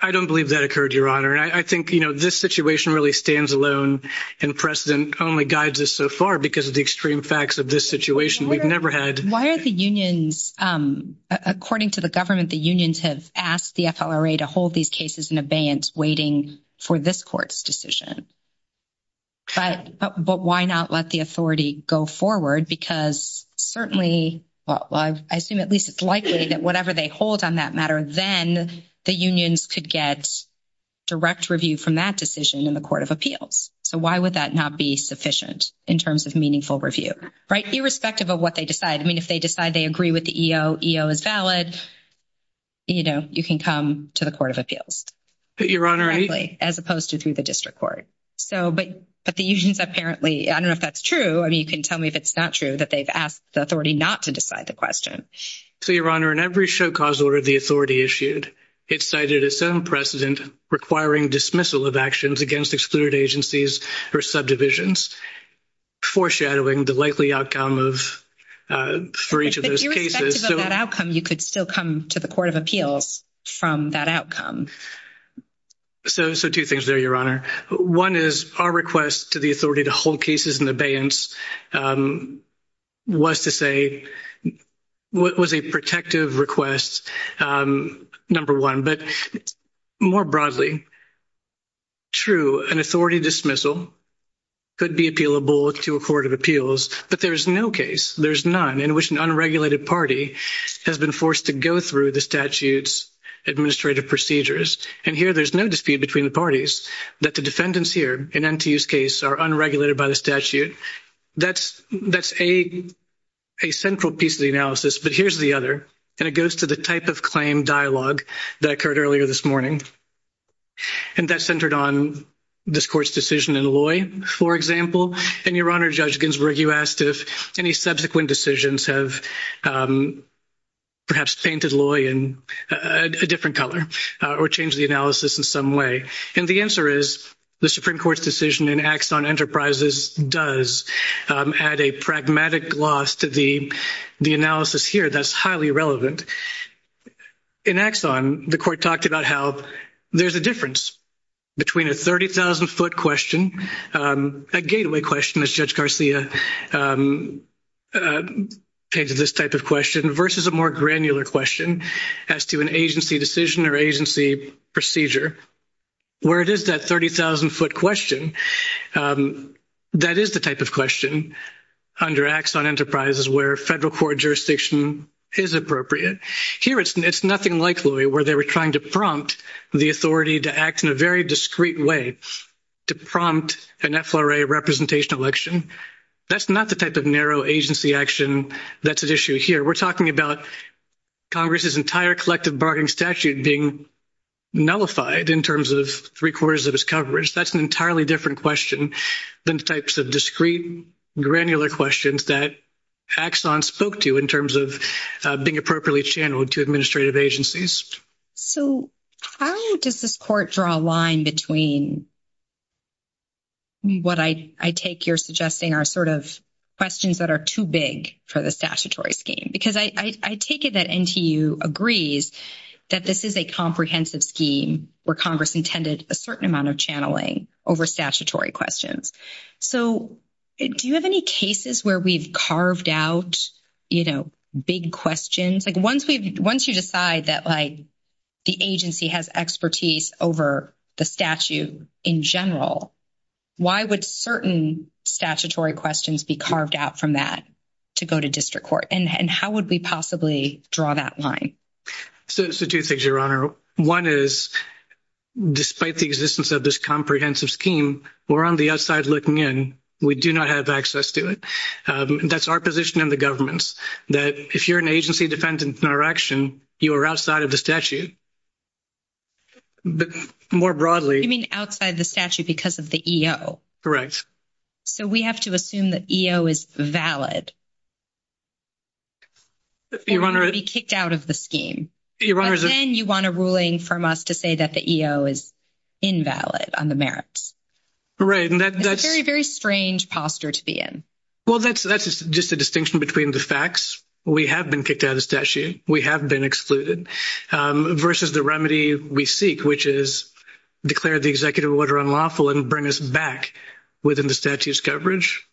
I don't believe that occurred, Your Honor. I think, you know, this situation really stands alone and precedent only guides us so far because of the extreme facts of this situation. We've never had... Why are the unions, according to the government, the unions have asked the FLRA to hold these cases in abeyance waiting for this court's decision. But why not let the authority go forward? Because certainly, well, I assume at least it's likely that whatever they hold on that matter, then the unions could get direct review from that decision in the Court of Appeals. So why would that not be sufficient in terms of meaningful review, right? Irrespective of what they decide. I mean, if they decide they agree with the EO, EO is valid, you know, you can come to the Court of Appeals. But, Your Honor... Exactly, as opposed to through the district court. So, but the unions apparently, I don't know if that's true. I mean, you can tell me if it's not true that they've asked the authority not to decide the question. So, Your Honor, in every show cause order the authority issued, it cited its own precedent requiring dismissal of actions against excluded agencies or subdivisions, foreshadowing the likely outcome of, for each of those cases. Irrespective of that outcome, you could still come to the Court of Appeals from that outcome. So two things there, Your Honor. One is our request to the authority to hold cases in abeyance was to say, was a protective request, number one. But more broadly, true, an authority dismissal could be appealable to a Court of Appeals. But there's no case, there's none, in which an unregulated party has been forced to go through the statute's administrative procedures. And here there's no dispute between the parties that the defendants here in NTU's case are unregulated by the statute. That's a central piece of the analysis. But here's the other, and it goes to the type of claim dialogue that occurred earlier this morning. And that centered on this court's decision in Loy, for example. And, Your Honor, Judge Ginsburg, you asked if any subsequent decisions have perhaps painted Loy in a different color or changed the analysis in some way. And the answer is the Supreme Court's decision in Axon Enterprises does add a pragmatic loss to the analysis here that's highly relevant. In Axon, the court talked about how there's a difference between a 30,000-foot question, a gateway question, as Judge Garcia came to this type of question, versus a more granular question as to an agency decision or agency procedure. Where it is that 30,000-foot question, that is the type of question under Axon Enterprises where federal court jurisdiction is appropriate. Here it's nothing like Loy where they were trying to prompt the authority to act in a very discreet way to prompt an FLRA representation election. That's not the type of narrow agency action that's at issue here. We're talking about Congress's entire collective bargaining statute being nullified in terms of three-quarters of its coverage. That's an entirely different question than the types of discreet, granular questions that Axon spoke to in terms of being appropriately channeled to administrative agencies. So how does this court draw a line between what I take you're suggesting are sort of questions that are too big for the statutory scheme? Because I take it that NTU agrees that this is a comprehensive scheme where Congress intended a certain amount of channeling over statutory questions. So do you have any cases where we've carved out, you know, big questions? Like once you decide that, like, the agency has expertise over the statute in general, why would certain statutory questions be carved out from that to go to district court? And how would we possibly draw that line? So two things, Your Honor. One is despite the existence of this comprehensive scheme, we're on the other side looking in. We do not have access to it. That's our position in the government. It's just that if you're an agency defendant in our action, you are outside of the statute. But more broadly. You mean outside the statute because of the EO. So we have to assume that EO is valid. Your Honor. And not be kicked out of the scheme. Your Honor. And then you want a ruling from us to say that the EO is invalid on the merits. Right. That's a very, very strange posture to be in. Well, that's just a distinction between the facts. We have been kicked out of the statute. We have been excluded. Versus the remedy we seek, which is declare the executive order unlawful and bring us back within the statute's coverage.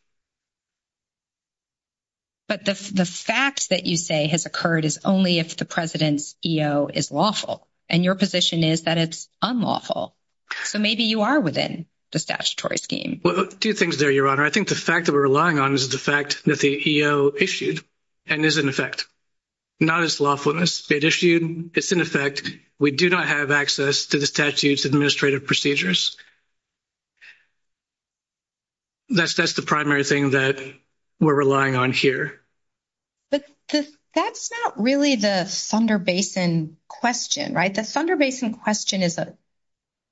But the fact that you say has occurred is only if the president's EO is lawful. And your position is that it's unlawful. So maybe you are within the statutory scheme. Two things there, Your Honor. I think the fact that we're relying on is the fact that the EO issued and is in effect. Not as lawfulness. It issued. It's in effect. We do not have access to the statute's administrative procedures. That's the primary thing that we're relying on here. But that's not really the Thunder Basin question, right? The Thunder Basin question is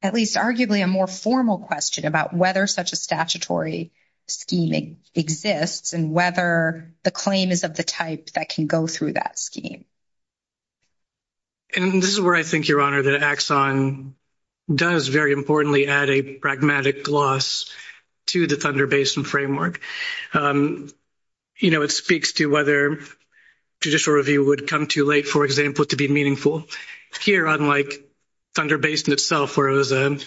at least arguably a more formal question about whether such a statutory scheme exists and whether the claim is of the type that can go through that scheme. And this is where I think, Your Honor, that Axon does very importantly add a pragmatic gloss to the Thunder Basin framework. You know, it speaks to whether judicial review would come too late, for example, to be meaningful. Here, unlike Thunder Basin itself, where it was a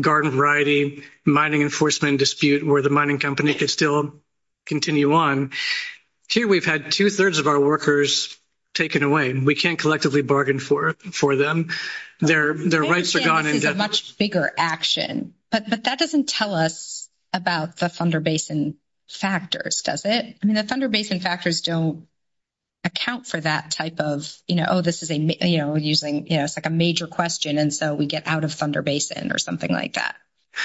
garden variety mining enforcement dispute where the mining company could still continue on, here we've had two-thirds of our workers taken away. We can't collectively bargain for them. Their rights are gone. They can't take a much bigger action. But that doesn't tell us about the Thunder Basin factors, does it? I mean, the Thunder Basin factors don't account for that type of, you know, oh, this is a major question, and so we get out of Thunder Basin or something like that.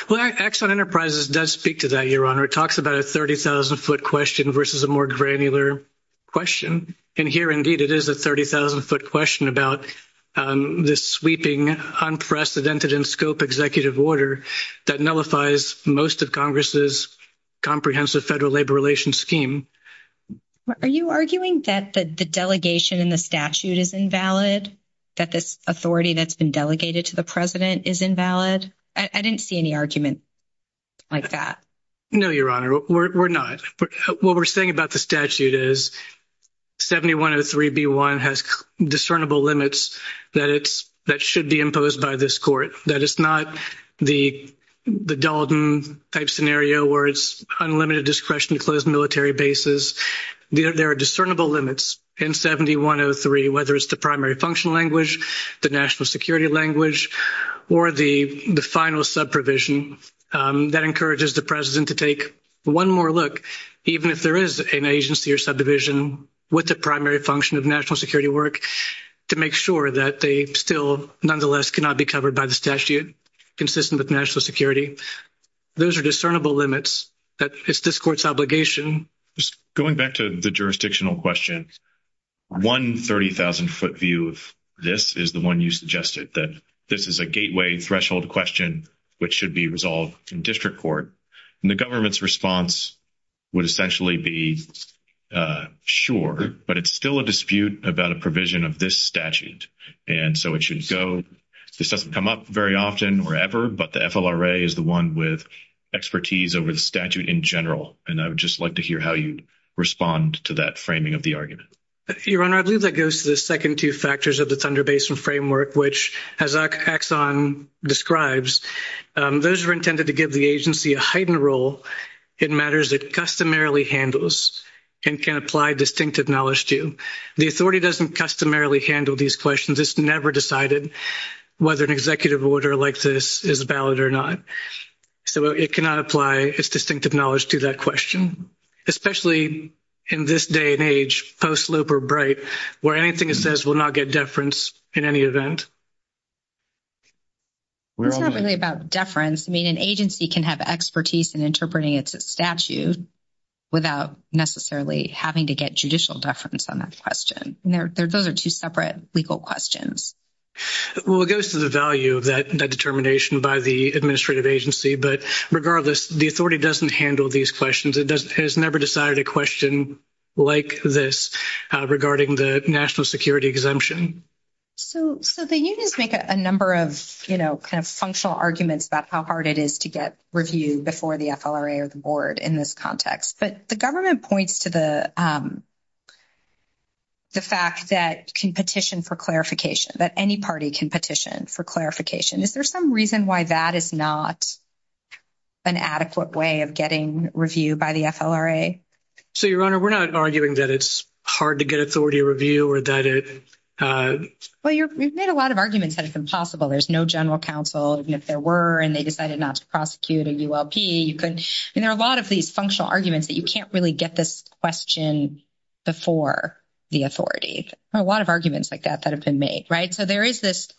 Well, Axon Enterprises does speak to that, Your Honor. It talks about a 30,000-foot question versus a more granular question. And here, indeed, it is a 30,000-foot question about the sweeping, unprecedented-in-scope executive order that nullifies most of Congress's comprehensive federal labor relations scheme. Are you arguing that the delegation in the statute is invalid, that this authority that's been delegated to the president is invalid? I didn't see any argument like that. No, Your Honor, we're not. What we're saying about the statute is 7103b1 has discernible limits that should be imposed by this court. That it's not the Dalton-type scenario where it's unlimited discretion to close military bases. There are discernible limits in 7103, whether it's the primary function language, the national security language, or the final subprovision that encourages the president to take one more look, even if there is an agency or subdivision with the primary function of national security work, to make sure that they still, nonetheless, cannot be covered by the statute consistent with national security. Those are discernible limits. It's this court's obligation. Going back to the jurisdictional question, one 30,000-foot view of this is the one you suggested, that this is a gateway threshold question which should be resolved in district court. The government's response would essentially be, sure, but it's still a dispute about a provision of this statute, and so it should go. This doesn't come up very often or ever, but the FLRA is the one with expertise over the statute in general, and I would just like to hear how you'd respond to that framing of the argument. Your Honor, I believe that goes to the second two factors of the Thunder Basin Framework, which, as Axon describes, those are intended to give the agency a heightened role in matters it customarily handles and can apply distinctive knowledge to. The authority doesn't customarily handle these questions. It's never decided whether an executive order like this is valid or not. So it cannot apply its distinctive knowledge to that question, especially in this day and age, post-Loeb or Bright, where anything it says will not get deference in any event. It's not really about deference. I mean, an agency can have expertise in interpreting its statute without necessarily having to get judicial deference on that question. Those are two separate legal questions. Well, it goes to the value of that determination by the administrative agency, but regardless, the authority doesn't handle these questions. It has never decided a question like this regarding the national security exemption. So the unions make a number of, you know, kind of functional arguments about how hard it is to get reviewed before the FLRA or the board in this context, but the government points to the fact that it can petition for clarification, that any party can petition for clarification. Is there some reason why that is not an adequate way of getting reviewed by the FLRA? So, Your Honor, we're not arguing that it's hard to get authority review or that it— Well, you've made a lot of arguments that it's impossible. There's no general counsel, even if there were, and they decided not to prosecute a ULP. And there are a lot of these functional arguments that you can't really get this question before the authority. There are a lot of arguments like that that have been made, right? So there is this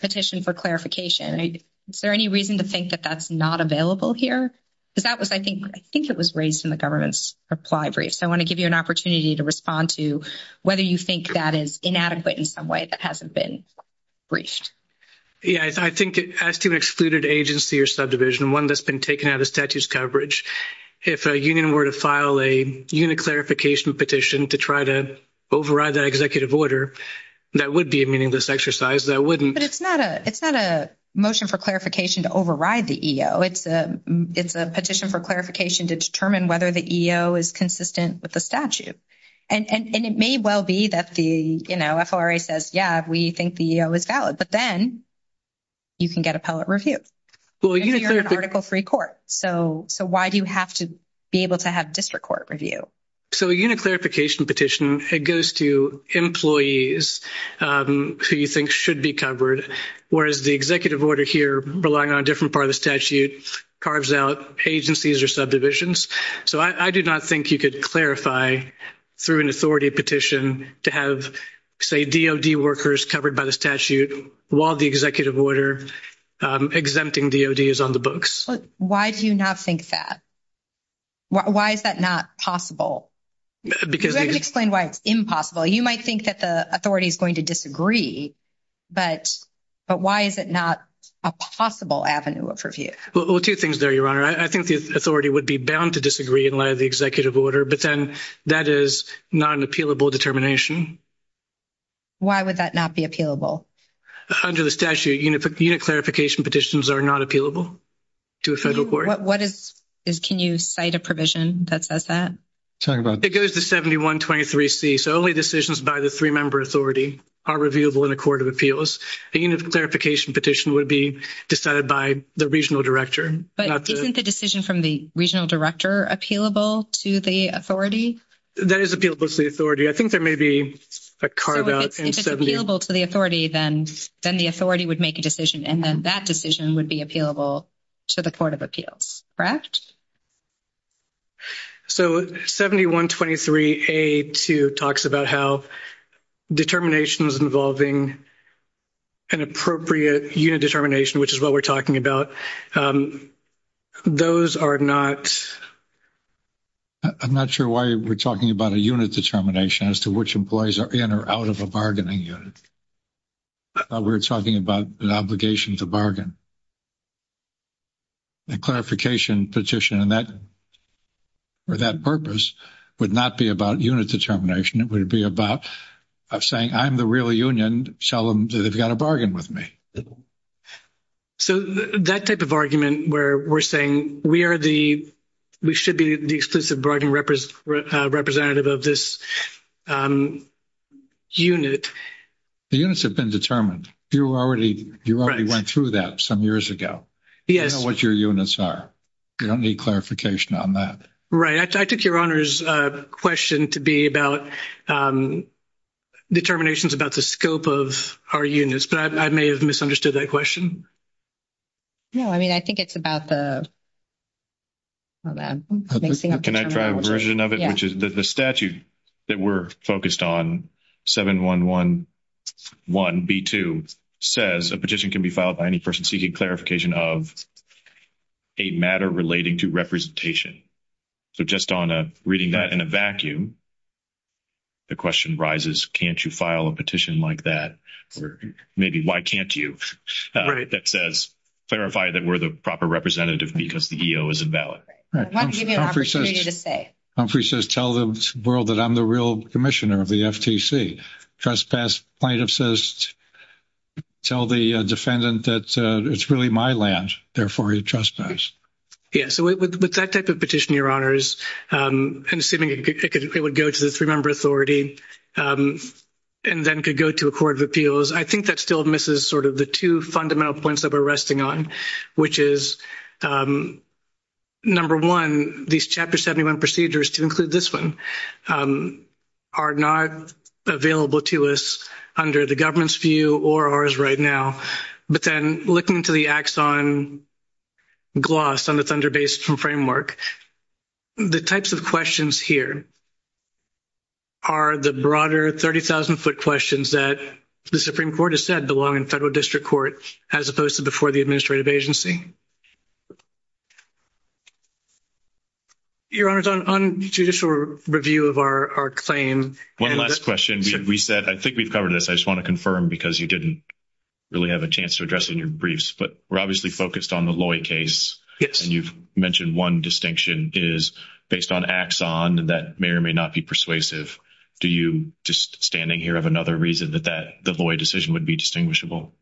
petition for clarification. Is there any reason to think that that's not available here? Because that was—I think it was raised in the government's reply brief. So I want to give you an opportunity to respond to whether you think that is inadequate in some way that hasn't been briefed. Yeah, I think as to an excluded agency or subdivision, one that's been taken out of the statute's coverage, if a union were to file a unit clarification petition to try to override that executive order, that would be a meaningless exercise. That wouldn't— But it's not a motion for clarification to override the EO. It's a petition for clarification to determine whether the EO is consistent with the statute. And it may well be that the, you know, FLRA says, yeah, we think the EO is valid. But then you can get appellate review. And you're an article-free court. So why do you have to be able to have district court review? So a unit clarification petition, it goes to employees who you think should be covered, whereas the executive order here, relying on a different part of the statute, carves out agencies or subdivisions. So I do not think you could clarify through an authority petition to have, say, DOD workers covered by the statute while the executive order exempting DOD is on the books. But why do you not think that? Why is that not possible? Because— You haven't explained why it's impossible. You might think that the authority is going to disagree. But why is it not a possible avenue of review? Well, two things there, Your Honor. I think the authority would be bound to disagree in light of the executive order. But then that is not an appealable determination. Why would that not be appealable? Under the statute, unit clarification petitions are not appealable to a federal court. What is—can you cite a provision that says that? It goes to 7123C. So only decisions by the three-member authority are reviewable in a court of appeals. The unit clarification petition would be decided by the regional director. But isn't the decision from the regional director appealable to the authority? That is appealable to the authority. I think there may be a carve-out. If it's appealable to the authority, then the authority would make a decision, and then that decision would be appealable to the court of appeals, correct? So 7123A.2 talks about how determination is involving an appropriate unit determination, which is what we're talking about. Those are not— I'm not sure why we're talking about a unit determination as to which employees are in or out of a bargaining unit. I thought we were talking about an obligation to bargain. A clarification petition for that purpose would not be about unit determination. It would be about saying, I'm the real union. Tell them that they've got to bargain with me. So that type of argument where we're saying we are the—we should be the exclusive bargaining representative of this unit. The units have been determined. You already went through that some years ago. You know what your units are. You don't need clarification on that. Right. I took your Honor's question to be about determinations about the scope of our units, but I may have misunderstood that question. No, I mean, I think it's about the—hold on. Can I try a version of it, which is that the statute that we're focused on, 7111B2, says a petition can be filed by any person seeking clarification of a matter relating to representation. So just on a—reading that in a vacuum, the question rises, can't you file a petition like that, or maybe why can't you, that says clarify that we're the proper representative because the EO is invalid. I want to give you an opportunity to say. Humphrey says tell the world that I'm the real commissioner of the FTC. Trespass plaintiff says tell the defendant that it's really my land, therefore he trespassed. Yeah, so with that type of petition, Your Honors, and assuming it would go to the three-member authority, and then could go to a court of appeals, I think that still misses sort of the two fundamental points that we're resting on, which is, number one, these Chapter 71 procedures, to include this one, are not available to us under the government's view or ours right now. But then looking to the axon gloss on the Thunder Base Framework, the types of questions here are the broader 30,000-foot questions that the Supreme Court has said belong in federal district court as opposed to before the administrative agency. Your Honors, on judicial review of our claim— One last question. We said—I think we've covered this. I just want to confirm because you didn't really have a chance to address it in your briefs, but we're obviously focused on the Loy case, and you've mentioned one distinction is, based on axon, that may or may not be persuasive. Do you, just standing here, have another reason that the Loy decision would be distinguishable?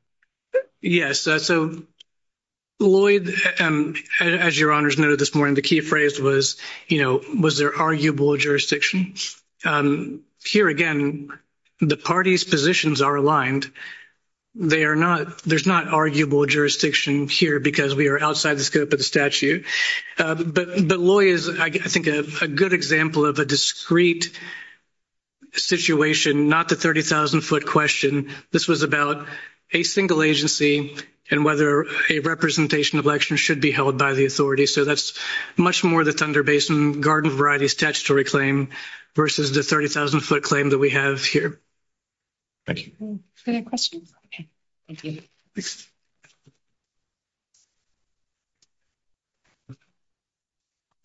Yes, so Loy, as Your Honors noted this morning, the key phrase was, you know, was there arguable jurisdiction? Here, again, the parties' positions are aligned. They are not—there's not arguable jurisdiction here because we are outside the scope of the statute. But Loy is, I think, a good example of a discrete situation, not the 30,000-foot question. This was about a single agency and whether a representation election should be held by the authority. So that's much more the Thunder Basin Garden Variety Statutory Claim versus the 30,000-foot claim that we have here. Thank you. Is there any questions? Thank you.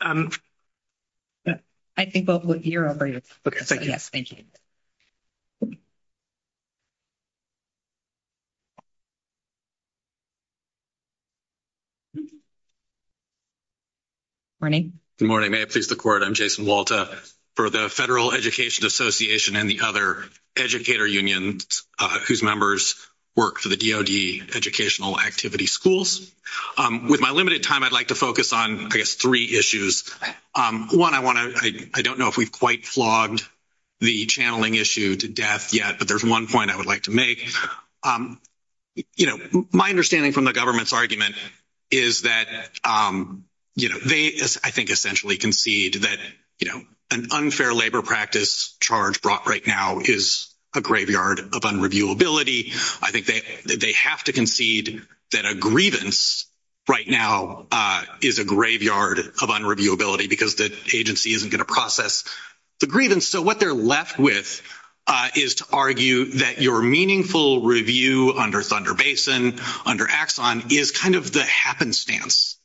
I think both of you are over here. Okay, thank you. Yes, thank you. Good morning. Good morning. May it please the Court, I'm Jason Walta for the Federal Education Association and the other educator unions whose members work for the DOD Educational Activity Schools. With my limited time, I'd like to focus on, I guess, three issues. One, I want to—I don't know if we've quite flogged the channeling issue to death yet, but there's one point I would like to make. You know, my understanding from the government's argument is that, you know, they, I think, essentially concede that, you know, an unfair labor practice charge brought right now is a graveyard of unreviewability. I think they have to concede that a grievance right now is a graveyard of unreviewability because the agency isn't going to process the grievance. So what they're left with is to argue that your meaningful review under Thunder Basin, under Axon, is kind of the happenstance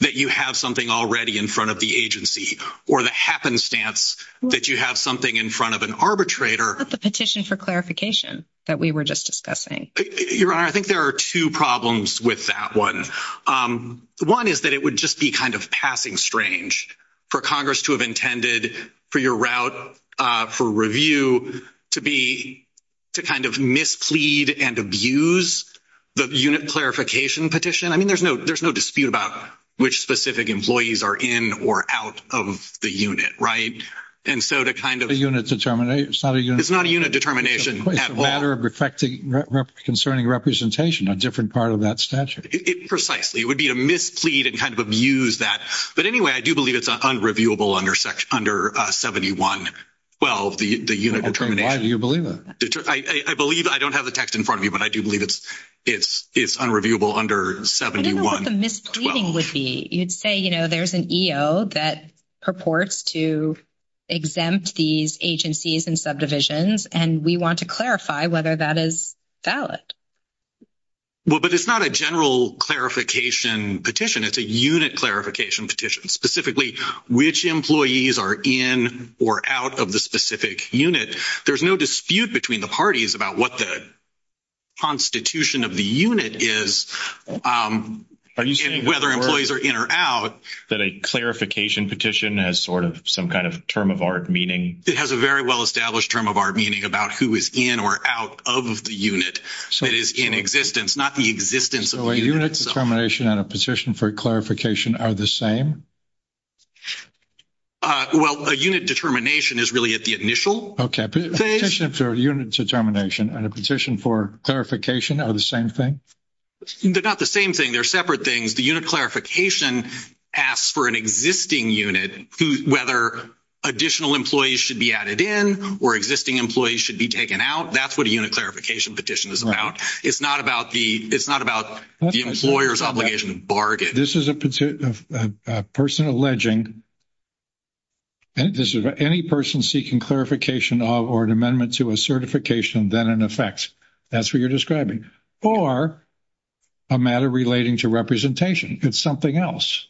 that you have something already in front of the agency or the happenstance that you have something in front of an arbitrator. What about the petition for clarification that we were just discussing? Your Honor, I think there are two problems with that one. One is that it would just be kind of passing strange for Congress to have intended for your route for review to be, to kind of misplead and abuse the unit clarification petition. I mean, there's no dispute about which specific employees are in or out of the unit, right? And so to kind of... A unit determination. It's not a unit... It's not a unit determination at all. It's a matter of affecting concerning representation of a different part of that statute. Precisely. It would be a misplead and kind of abuse that. But anyway, I do believe it's unreviewable under 71-12, the unit determination. Why do you believe that? I believe, I don't have the text in front of me, but I do believe it's unreviewable under 71-12. I don't know what the mispleading would be. You'd say, you know, there's an EO that purports to exempt these agencies and subdivisions, and we want to clarify whether that is valid. Well, but it's not a general clarification petition. It's a unit clarification petition. Specifically, which employees are in or out of the specific unit. There's no dispute between the parties about what the constitution of the unit is and whether employees are in or out. Are you saying that a clarification petition has sort of some kind of term of art meaning? It has a very well-established term of art meaning about who is in or out of the unit. So it is in existence, not the existence of the unit. So a unit determination and a petition for clarification are the same? Well, a unit determination is really at the initial. Okay. A petition for unit determination and a petition for clarification are the same thing? They're not the same thing. They're separate things. The unit clarification asks for an existing unit, whether additional employees should be added in or existing employees should be taken out. That's what a unit clarification petition is about. It's not about the employer's obligation to bargain. This is a person alleging any person seeking clarification or an amendment to a certification than in effect. That's what you're describing. Or a matter relating to representation. It's something else.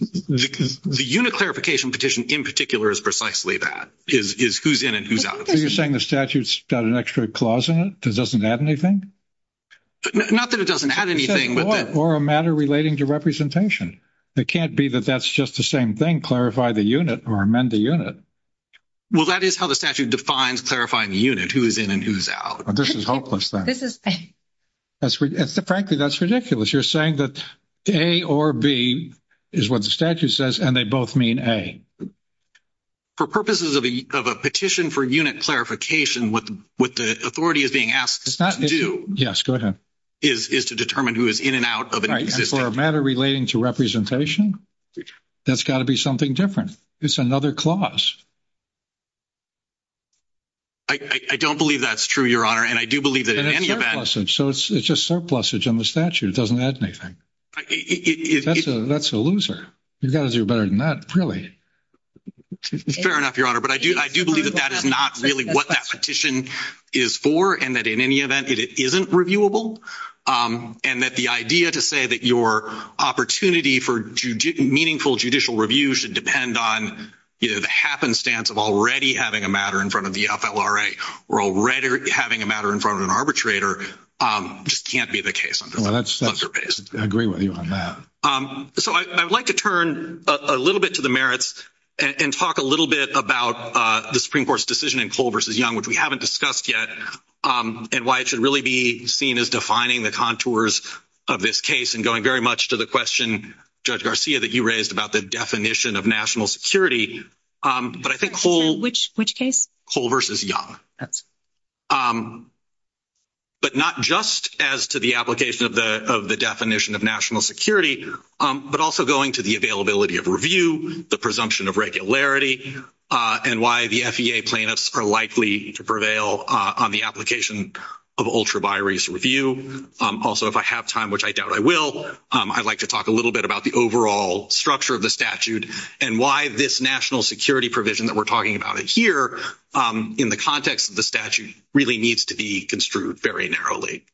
The unit clarification petition in particular is precisely that, is who's in and who's out. So you're saying the statute's got an extra clause in it that doesn't add anything? Not that it doesn't add anything. Or a matter relating to representation. It can't be that that's just the same thing, clarify the unit or amend the unit. Well, that is how the statute defines clarifying the unit, who's in and who's out. This is hopeless then. Frankly, that's ridiculous. You're saying that A or B is what the statute says, and they both mean A. For purposes of a petition for unit clarification, what the authority is being asked to do is to determine who is in and out of an existing unit. Right, and for a matter relating to representation, that's got to be something different. It's another clause. I don't believe that's true, Your Honor, and I do believe that any of that. So it's just surplusage on the statute. It doesn't add anything. That's a loser. You've got to do better than that, really. Fair enough, Your Honor, but I do believe that that is not really what that petition is for and that in any event it isn't reviewable, and that the idea to say that your opportunity for meaningful judicial review should depend on the happenstance of already having a matter in front of the FLRA or already having a matter in front of an arbitrator just can't be the case. I agree with you on that. So I'd like to turn a little bit to the merits and talk a little bit about the Supreme Court's decision in Cole v. Young, which we haven't discussed yet, and why it should really be seen as defining the contours of this case and going very much to the question, Judge Garcia, that you raised about the definition of national security. Which case? Cole v. Young. But not just as to the application of the definition of national security, but also going to the availability of review, the presumption of regularity, and why the FEA plaintiffs are likely to prevail on the application of ultraviarious review. Also, if I have time, which I doubt I will, I'd like to talk a little bit about the overall structure of the statute and why this national security provision that we're talking about here in the context of the statute really needs to be construed very narrowly.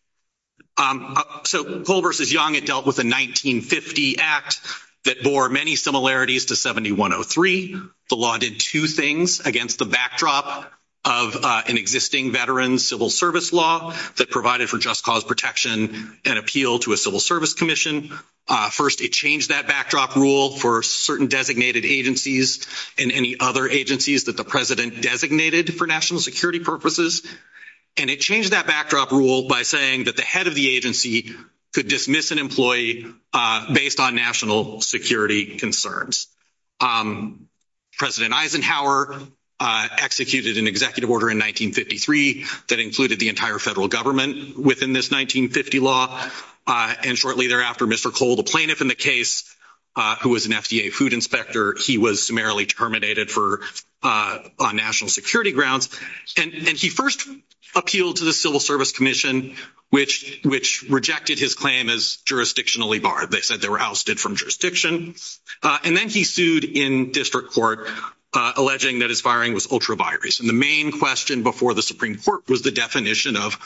So Cole v. Young, it dealt with a 1950 act that bore many similarities to 7103. The law did two things against the backdrop of an existing veteran's civil service law that provided for just cause protection and appeal to a civil service commission. First, it changed that backdrop rule for certain designated agencies and any other agencies that the president designated for national security purposes. And it changed that backdrop rule by saying that the head of the agency could dismiss an employee based on national security concerns. President Eisenhower executed an executive order in 1953 that included the entire federal government within this 1950 law. And shortly thereafter, Mr. Cole, the plaintiff in the case, who was an FDA food inspector, he was summarily terminated on national security grounds. And he first appealed to the civil service commission, which rejected his claim as jurisdictionally barred. They said they were ousted from jurisdiction. And then he sued in district court, alleging that his firing was ultraviarious. And the main question before the Supreme Court was the definition of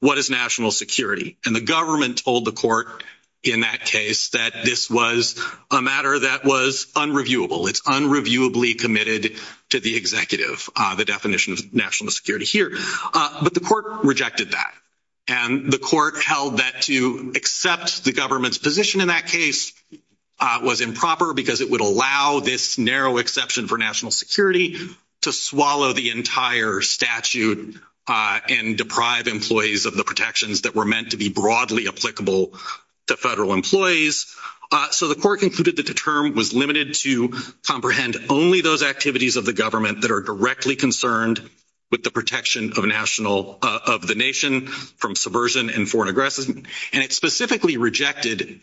what is national security. And the government told the court in that case that this was a matter that was unreviewable. It's unreviewably committed to the executive, the definition of national security here. But the court rejected that. And the court held that to accept the government's position in that case was improper because it would allow this narrow exception for national security to swallow the entire statute and deprive employees of the protections that were meant to be broadly applicable to federal employees. So the court concluded that the term was limited to comprehend only those activities of the government that are directly concerned with the protection of the nation from subversion and foreign aggression. And it specifically rejected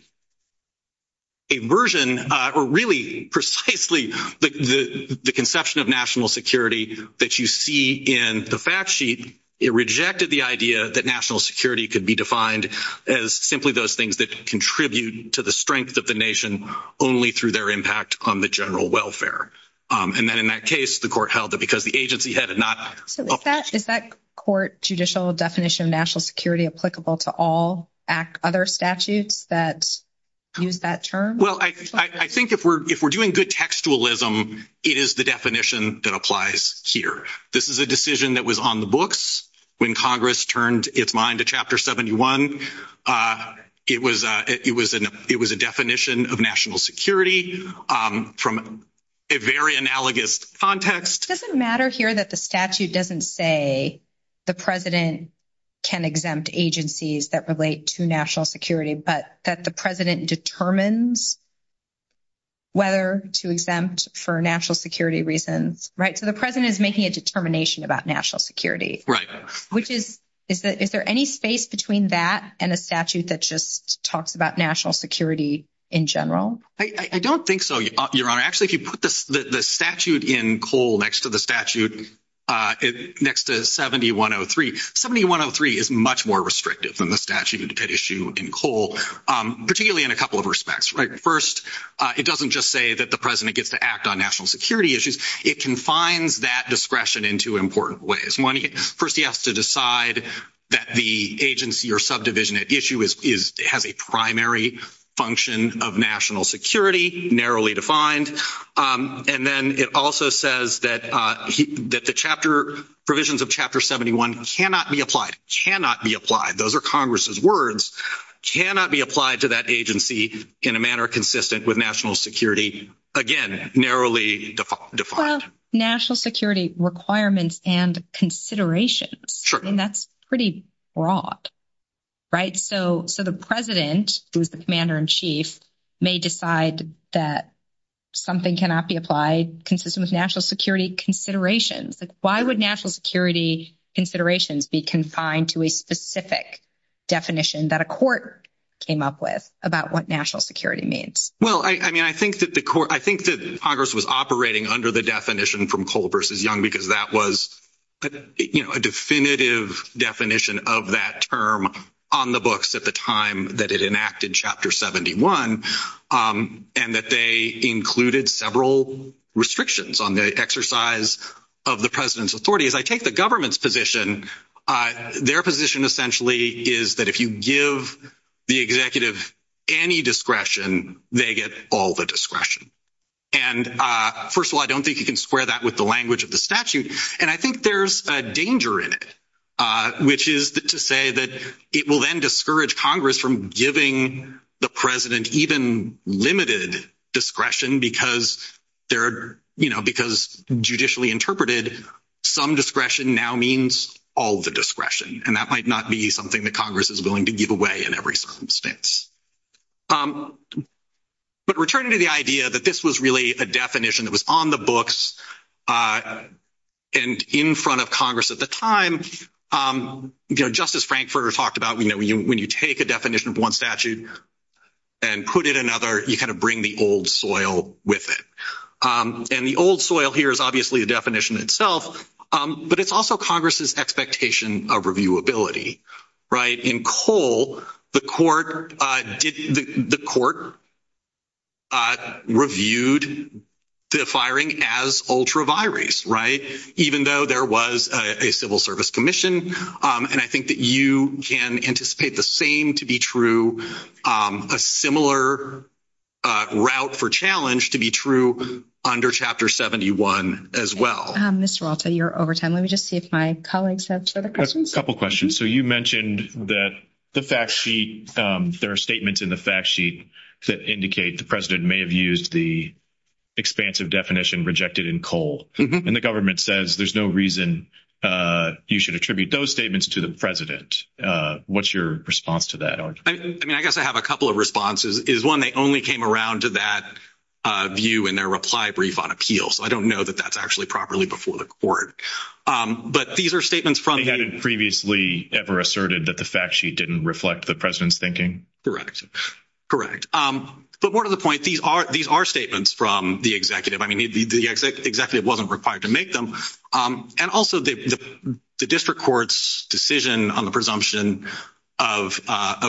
a version or really precisely the conception of national security that you see in the fact sheet. It rejected the idea that national security could be defined as simply those things that contribute to the strength of the nation only through their impact on the general welfare. And then in that case, the court held that because the agency had not- Is that court judicial definition of national security applicable to all other statutes that use that term? Well, I think if we're doing good textualism, it is the definition that applies here. This is a decision that was on the books when Congress turned its mind to Chapter 71. It was a definition of national security from a very analogous context. It doesn't matter here that the statute doesn't say the president can exempt agencies that relate to national security, but that the president determines whether to exempt for national security reasons, right? So the president is making a determination about national security. Right. Is there any space between that and a statute that just talks about national security in general? I don't think so, Your Honor. Actually, if you put the statute in Cole next to the statute next to 7103, 7103 is much more restrictive than the statute that issue in Cole, particularly in a couple of respects. First, it doesn't just say that the president gets to act on national security issues. It confines that discretion into important ways. First, he has to decide that the agency or subdivision at issue has a primary function of national security, narrowly defined. And then it also says that the provisions of Chapter 71 cannot be applied. Cannot be applied. Those are Congress's words. Cannot be applied to that agency in a manner consistent with national security, again, narrowly defined. What about national security requirements and considerations? Sure. And that's pretty broad, right? So the president, who is the commander in chief, may decide that something cannot be applied consistent with national security considerations. Why would national security considerations be confined to a specific definition that a court came up with about what national security means? Well, I mean, I think that Congress was operating under the definition from Cole v. Young because that was a definitive definition of that term on the books at the time that it enacted Chapter 71. And that they included several restrictions on the exercise of the president's authority. As I take the government's position, their position essentially is that if you give the executive any discretion, they get all the discretion. And, first of all, I don't think you can square that with the language of the statute. And I think there's a danger in it, which is to say that it will then discourage Congress from giving the president even limited discretion because they're, you know, because judicially interpreted, some discretion now means all the discretion. And that might not be something that Congress is willing to give away in every circumstance. But returning to the idea that this was really a definition that was on the books and in front of Congress at the time, you know, Justice Frankfurter talked about, you know, when you take a definition of one statute and put it in another, you kind of bring the old soil with it. And the old soil here is obviously the definition itself, but it's also Congress's expectation of reviewability, right? In Cole, the court reviewed the firing as ultra-virus, right? Even though there was a civil service commission. And I think that you can anticipate the same to be true, a similar route for challenge to be true under Chapter 71 as well. Mr. Walter, you're over time. Let me just see if my colleagues have further questions. A couple questions. So you mentioned that the fact sheet, there are statements in the fact sheet that indicate the president may have used the expansive definition rejected in Cole. And the government says there's no reason you should attribute those statements to the president. What's your response to that? I mean, I guess I have a couple of responses. One, they only came around to that view in their reply brief on appeals. So I don't know that that's actually properly before the court. They hadn't previously ever asserted that the fact sheet didn't reflect the president's thinking? But more to the point, these are statements from the executive. I mean, the executive wasn't required to make them. And also, the district court's decision on the presumption of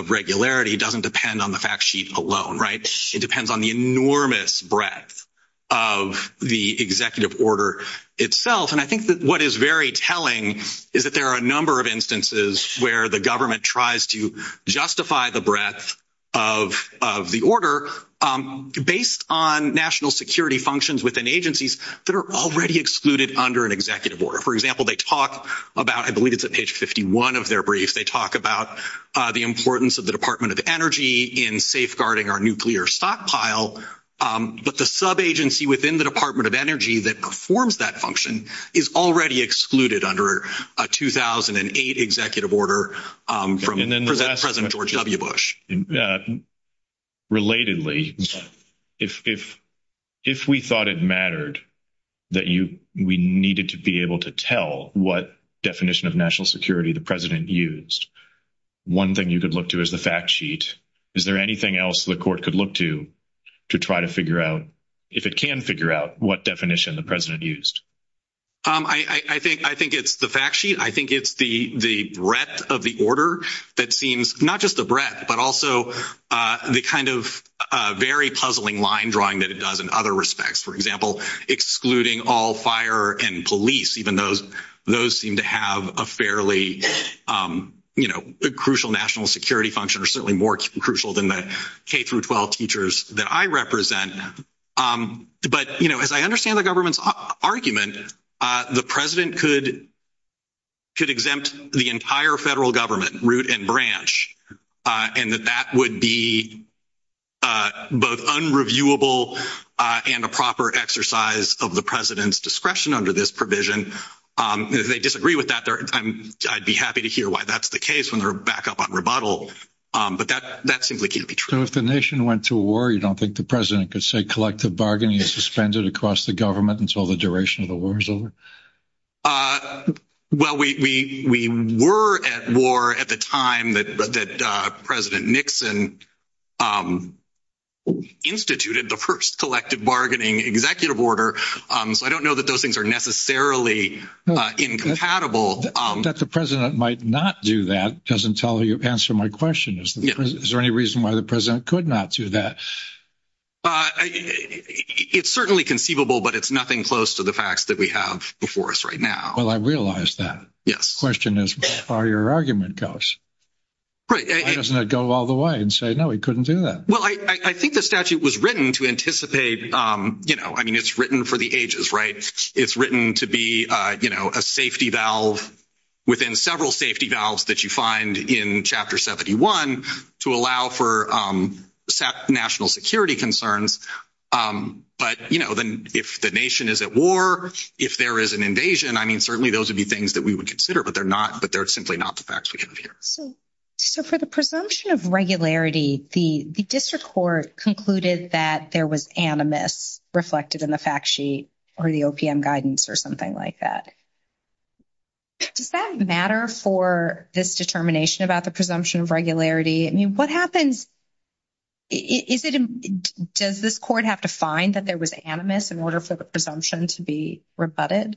regularity doesn't depend on the fact sheet alone, right? It depends on the enormous breadth of the executive order itself. And I think that what is very telling is that there are a number of instances where the government tries to justify the breadth of the order based on national security functions within agencies that are already excluded under an executive order. For example, they talk about, I believe it's at page 51 of their brief, they talk about the importance of the Department of Energy in safeguarding our nuclear stockpile. But the sub-agency within the Department of Energy that performs that function is already excluded under a 2008 executive order from President George W. Bush. Relatedly, if we thought it mattered that we needed to be able to tell what definition of national security the president used, one thing you could look to is the fact sheet. Is there anything else the court could look to to try to figure out, if it can figure out, what definition the president used? I think it's the fact sheet. I think it's the breadth of the order that seems not just the breadth, but also the kind of very puzzling line drawing that it does in other respects. For example, excluding all fire and police, even though those seem to have a fairly crucial national security function, or certainly more crucial than the K-12 teachers that I represent. But as I understand the government's argument, the president could exempt the entire federal government, root and branch, and that that would be both unreviewable and a proper exercise of the president's discretion under this provision. If they disagree with that, I'd be happy to hear why that's the case when they're back up on rebuttal. But that seems like it would be true. So if the nation went to war, you don't think the president could say collective bargaining is suspended across the government until the duration of the war is over? Well, we were at war at the time that President Nixon instituted the first collective bargaining executive order, so I don't know that those things are necessarily incompatible. That the president might not do that doesn't answer my question. Is there any reason why the president could not do that? It's certainly conceivable, but it's nothing close to the facts that we have before us right now. Well, I realize that. The question is how far your argument goes. Right. Why doesn't it go all the way and say, no, he couldn't do that? Well, I think the statute was written to anticipate, you know, I mean, it's written for the ages, right? It's written to be, you know, a safety valve within several safety valves that you find in Chapter 71 to allow for national security concerns. But, you know, then if the nation is at war, if there is an invasion, I mean, certainly those would be things that we would consider, but they're simply not the facts we have here. So for the presumption of regularity, the district court concluded that there was animus reflected in the fact sheet or the OPM guidance or something like that. Does that matter for this determination about the presumption of regularity? I mean, what happens, is it, does this court have to find that there was animus in order for the presumption to be rebutted?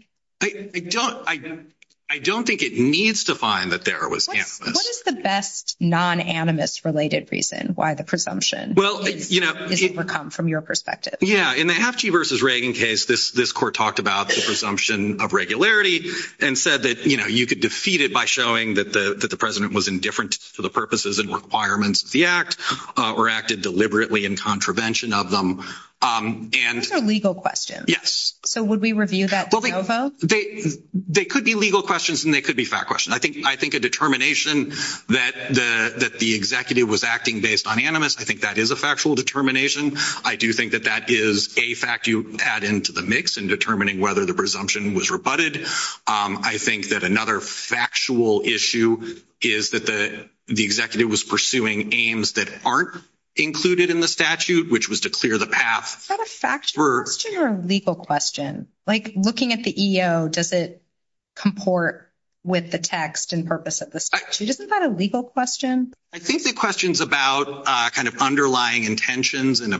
I don't think it needs to find that there was animus. What is the best non-animus related reason why the presumption would come from your perspective? Yeah, in the Hatchie v. Reagan case, this court talked about the presumption of regularity and said that, you know, you could defeat it by showing that the president was indifferent to the purposes and requirements of the act or acted deliberately in contravention of them. Those are legal questions. Yes. So would we review that? They could be legal questions and they could be fact questions. I think a determination that the executive was acting based on animus, I think that is a factual determination. I do think that that is a fact you add into the mix in determining whether the presumption was rebutted. I think that another factual issue is that the executive was pursuing aims that aren't included in the statute, which was to clear the path. Is that a factual question or a legal question? Like looking at the EO, does it comport with the text and purpose of the statute? Isn't that a legal question? I think the questions about kind of underlying intentions and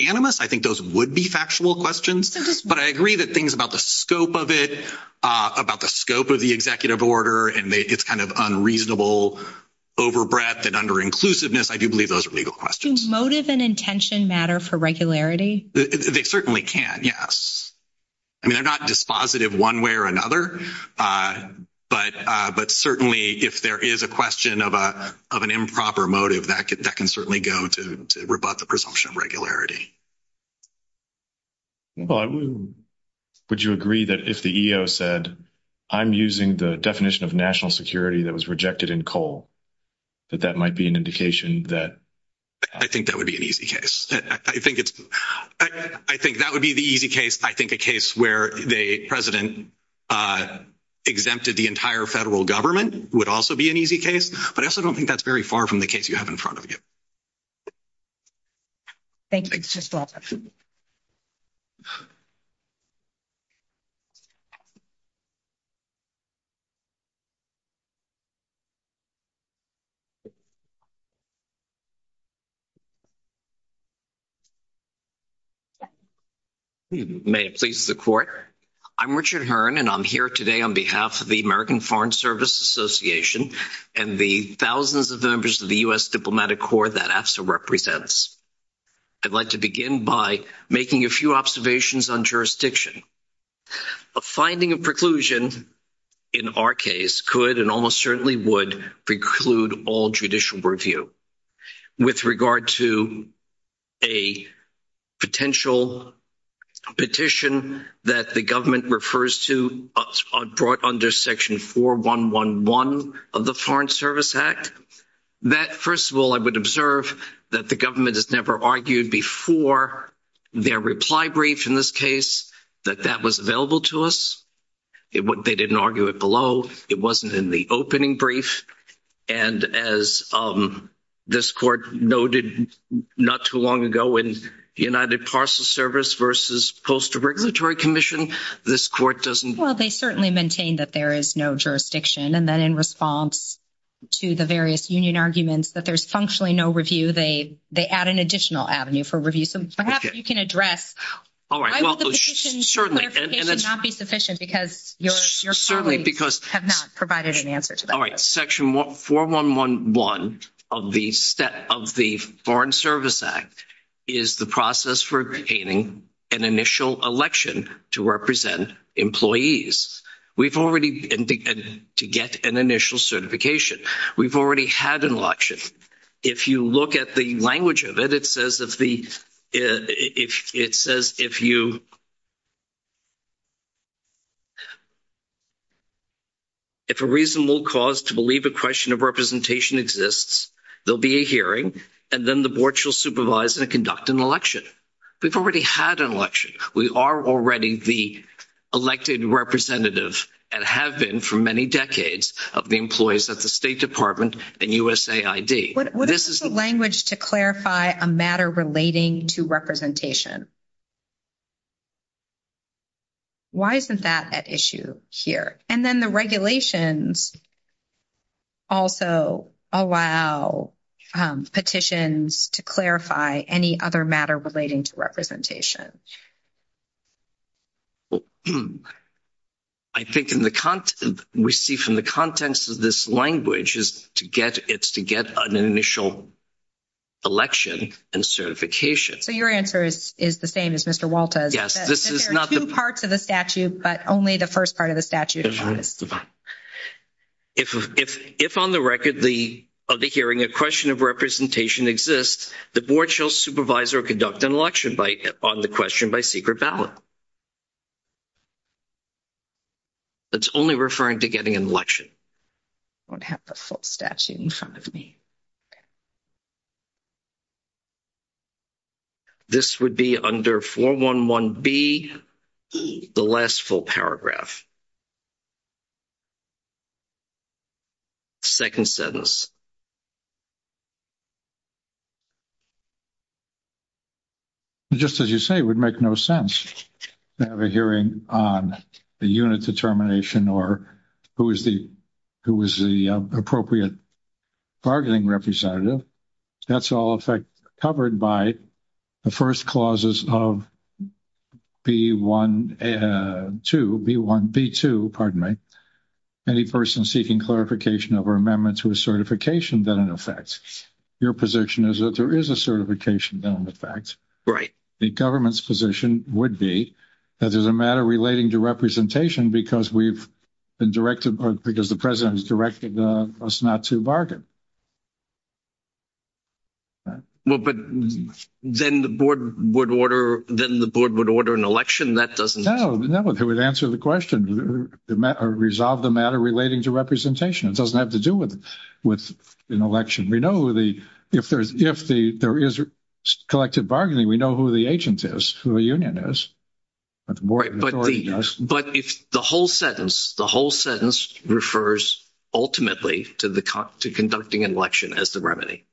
animus, I think those would be factual questions. But I agree that things about the scope of it, about the scope of the executive order, and it's kind of unreasonable, over-breath, and under-inclusiveness, I do believe those are legal questions. Do motive and intention matter for regularity? They certainly can, yes. I mean, they're not dispositive one way or another, but certainly if there is a question of an improper motive, that can certainly go to rebut the presumption of regularity. Would you agree that if the EO said, I'm using the definition of national security that was rejected in COLE, that that might be an indication that? I think that would be an easy case. I think that would be the easy case. I think the case where the president exempted the entire federal government would also be an easy case. But I also don't think that's very far from the case you have in front of you. Thank you. It's just awesome. May it please the court. I'm Richard Hearn, and I'm here today on behalf of the American Foreign Service Association and the thousands of members of the U.S. Diplomatic Corps that AFSA represents. I'd like to begin by making a few observations on jurisdiction. A finding of preclusion in our case could and almost certainly would preclude all judicial review. With regard to a potential petition that the government refers to brought under Section 4111 of the Foreign Service Act, that, first of all, I would observe that the government has never argued before their reply brief in this case. That that was available to us. They didn't argue it below. It wasn't in the opening brief. And as this court noted not too long ago in the United Parcel Service versus post-regulatory commission, this court doesn't. Well, they certainly maintain that there is no jurisdiction. And then in response to the various union arguments that there's functionally no review, they add an additional avenue for review. So perhaps you can address why would the petition's clarification not be sufficient because your parties have not provided an answer to that. All right. Section 4111 of the Foreign Service Act is the process for obtaining an initial election to represent employees. We've already indicated to get an initial certification. We've already had an election. If you look at the language of it, it says if a reasonable cause to believe a question of representation exists, there'll be a hearing, and then the board shall supervise and conduct an election. We've already had an election. We are already the elected representative and have been for many decades of the employees of the State Department and USAID. What is the language to clarify a matter relating to representation? Why is that an issue here? And then the regulations also allow petitions to clarify any other matter relating to representation. I think in the content received from the contents of this language is to get an initial election and certification. So your answer is the same as Mr. Walters? Yes. There are two parts of the statute, but only the first part of the statute. If on the record of the hearing a question of representation exists, the board shall supervise or conduct an election on the question by secret ballot. It's only referring to getting an election. I don't have the full statute in front of me. This would be under 411B, the last full paragraph. Second sentence. Just as you say, it would make no sense to have a hearing on the unit determination or who is the appropriate bargaining representative. That's all, in fact, covered by the first clauses of B1 and 2, B1, B2, pardon me. Any person seeking clarification of our amendment to a certification then in effect. Your position is that there is a certification then in effect. The government's position would be that there's a matter relating to representation because we've been directed or because the president has directed us not to bargain. Well, but then the board would order an election. That doesn't... No, that would answer the question. Resolve the matter relating to representation. It doesn't have to do with an election. We know if there is collected bargaining, we know who the agent is, who the union is. But if the whole sentence, the whole sentence refers ultimately to conducting an election as the remedy.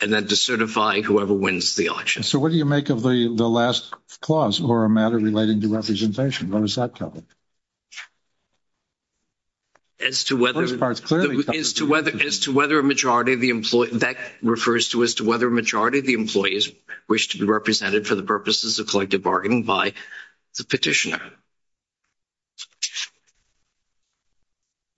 And then to certify whoever wins the election. So what do you make of the last clause or a matter relating to representation? What does that tell me? As to whether... As to whether a majority of the employees... That refers to as to whether a majority of the employees wish to be represented for the purposes of collected bargaining by the petitioner.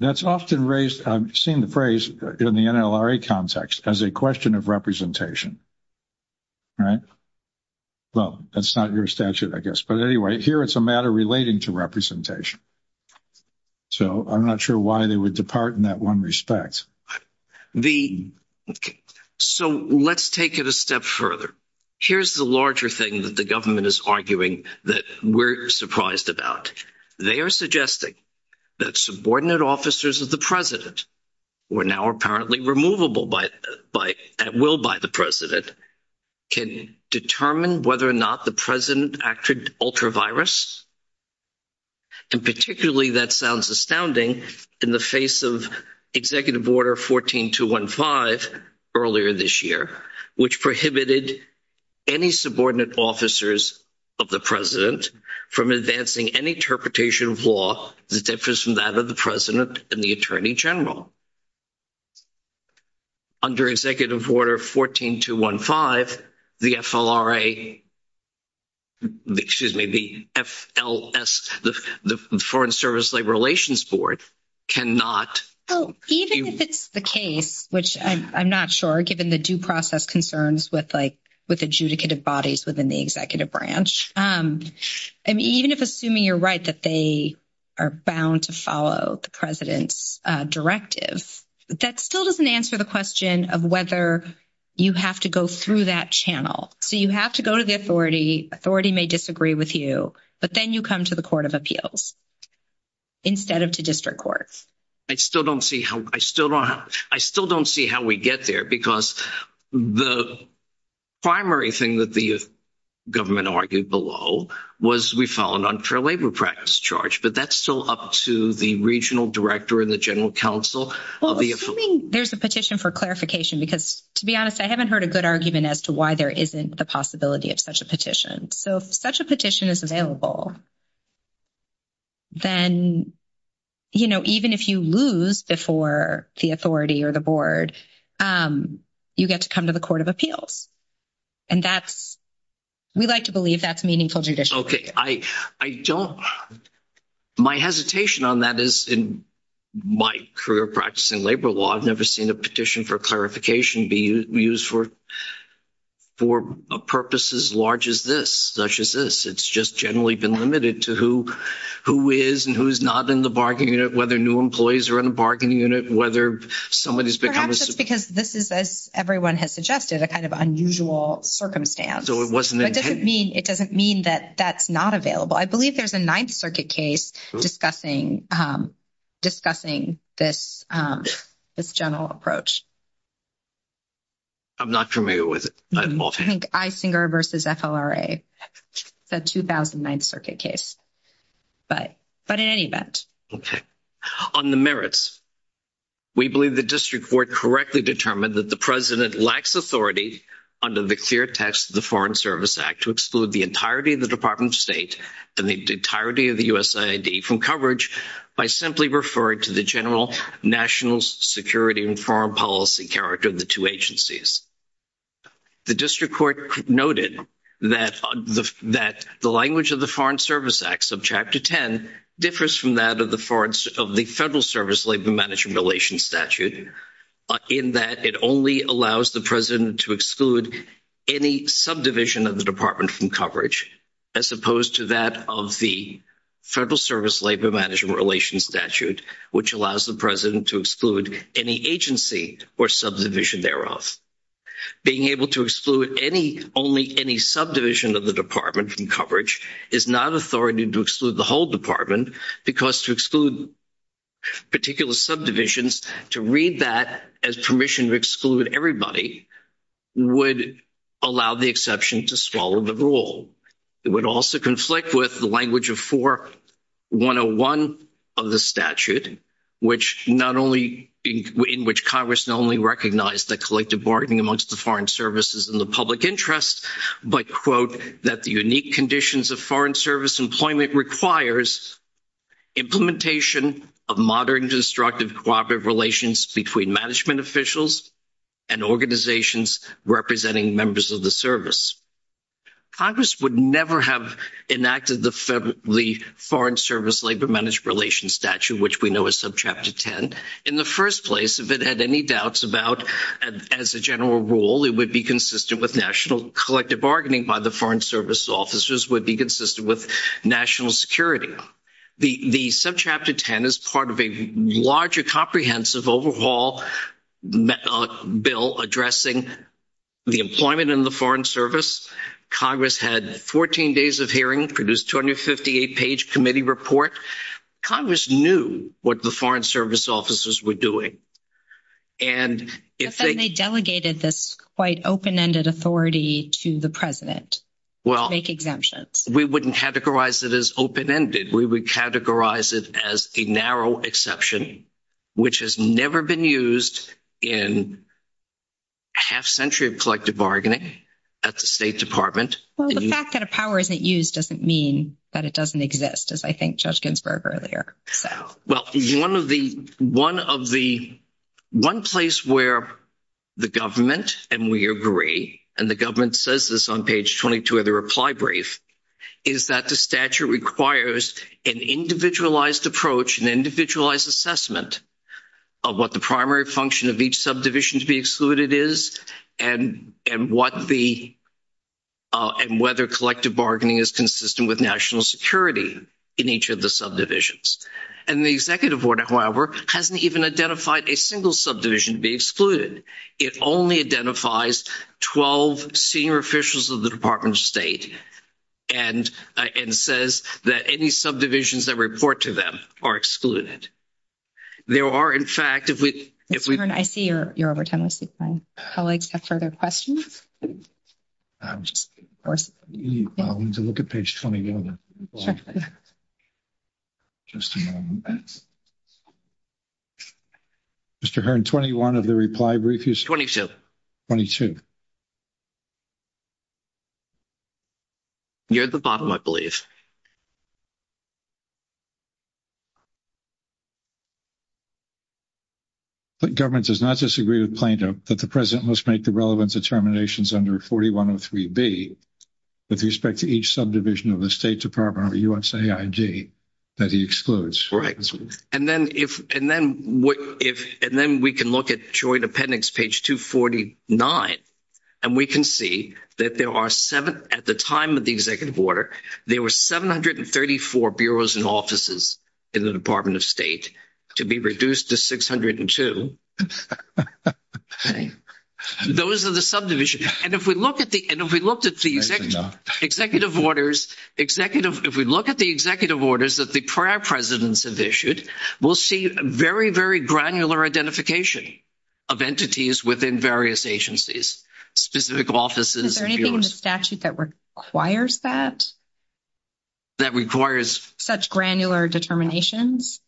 That's often raised, I've seen the phrase in the NLRA context as a question of representation. Right? Well, that's not your statute, I guess. But anyway, here it's a matter relating to representation. So I'm not sure why they would depart in that one respect. The... Okay. So let's take it a step further. Here's the larger thing that the government is arguing that we're surprised about. They are suggesting that subordinate officers of the president, who are now apparently removable at will by the president, can determine whether or not the president acted ultra-virus. And particularly that sounds astounding in the face of Executive Order 14215 earlier this year, which prohibited any subordinate officers of the president from advancing any interpretation of law that differs from that of the president and the attorney general. Under Executive Order 14215, the FLRA... Excuse me, the FLS, the Foreign Service Labor Relations Board cannot... Even if it's the case, which I'm not sure, given the due process concerns with adjudicative bodies within the executive branch. I mean, even if assuming you're right that they are bound to follow the president's directive, that still doesn't answer the question of whether you have to go through that channel. So you have to go to the authority, authority may disagree with you, but then you come to the Court of Appeals instead of to district courts. I still don't see how we get there because the primary thing that the government argued below was we follow an unfair labor practice charge, but that's still up to the regional director and the general counsel of the... Well, I mean, there's a petition for clarification because, to be honest, I haven't heard a good argument as to why there isn't the possibility of such a petition. So if such a petition is available, then, you know, even if you lose before the authority or the board, you get to come to the Court of Appeals. And that's...we like to believe that's meaningful judicially. Okay, I don't...my hesitation on that is in my career practicing labor law, I've never seen a petition for clarification be used for a purpose as large as this, such as this. It's just generally been limited to who is and who is not in the bargaining unit, whether new employees are in the bargaining unit, whether somebody's become a... Perhaps just because this is, as everyone has suggested, a kind of unusual circumstance. So it wasn't... It doesn't mean that that's not available. I believe there's a Ninth Circuit case discussing this general approach. I'm not familiar with it. I think Isinger v. FLRA, the 2009th Circuit case. But in any event. Okay. On the merits, we believe the district court correctly determined that the president lacks authority under the clear text of the Foreign Service Act to exclude the entirety of the Department of State and the entirety of the USAID from coverage by simply referring to the general national security and foreign policy character of the two agencies. The district court noted that the language of the Foreign Service Act, Subchapter 10, differs from that of the Federal Service Labor Management Relations Statute in that it only allows the president to exclude any subdivision of the department from coverage as opposed to that of the Federal Service Labor Management Relations Statute, which allows the president to exclude any agency or subdivision thereof. Being able to exclude only any subdivision of the department from coverage is not authority to exclude the whole department because to exclude particular subdivisions, to read that as permission to exclude everybody, would allow the exception to swallow the rule. It would also conflict with the language of 4-101 of the statute, in which Congress not only recognized the collective bargaining amongst the foreign services and the public interest, but, quote, that the unique conditions of foreign service employment requires implementation of modern and constructive cooperative relations between management officials and organizations representing members of the service. Congress would never have enacted the Foreign Service Labor Management Relations Statute, which we know is Subchapter 10. In the first place, if it had any doubts about, as a general rule, it would be consistent with national collective bargaining by the Foreign Service officers, would be consistent with national security. The Subchapter 10 is part of a larger comprehensive overhaul bill addressing the employment in the Foreign Service. Congress had 14 days of hearing, produced 258-page committee report. Congress knew what the Foreign Service officers were doing. But then they delegated this quite open-ended authority to the president to make exemptions. Well, we wouldn't categorize it as open-ended. We would categorize it as a narrow exception, which has never been used in half a century of collective bargaining at the State Department. Well, the fact that a power isn't used doesn't mean that it doesn't exist, as I think Judge Ginsburg earlier said. Well, one place where the government, and we agree, and the government says this on page 22 of the reply brief, is that the statute requires an individualized approach, an individualized assessment of what the primary function of each subdivision to be excluded is and whether collective bargaining is consistent with national security in each of the subdivisions. And the executive order, however, hasn't even identified a single subdivision to be excluded. It only identifies 12 senior officials of the Department of State and says that any subdivisions that report to them are excluded. There are, in fact, if we... I see you're over time. I see my colleagues have further questions. I need to look at page 21. Sure. Just a moment. Mr. Hearn, 21 of the reply brief is... 22. You're at the bottom, I believe. The government does not disagree with Plaintiff that the President must make the relevant determinations under 4103B with respect to each subdivision of the State Department of USAID that he excludes. And then we can look at Joint Appendix, page 249, and we can see that there are seven... At the time of the executive order, there were 734 bureaus and offices in the Department of State to be reduced to 602. Those are the subdivisions. And if we look at the executive orders... If we look at the executive orders that the prior presidents have issued, we'll see very, very granular identification of entities within various agencies, specific offices... Is there anything in the statute that requires that? That requires... Such granular determinations?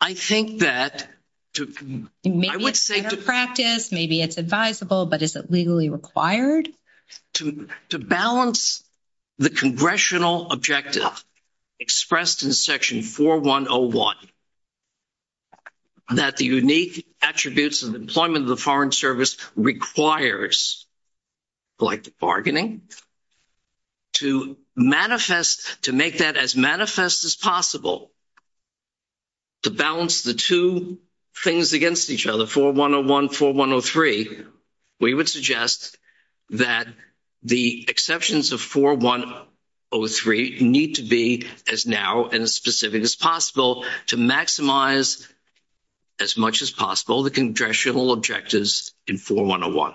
I think that... Maybe it's better practice, maybe it's advisable, but is it legally required? To balance the congressional objective expressed in Section 4101, that the unique attributes of employment of the Foreign Service requires collective bargaining, to manifest... To make that as manifest as possible, to balance the two things against each other, 4101, 4103, we would suggest that the exceptions of 4103 need to be as narrow and specific as possible to maximize, as much as possible, the congressional objectives in 4101.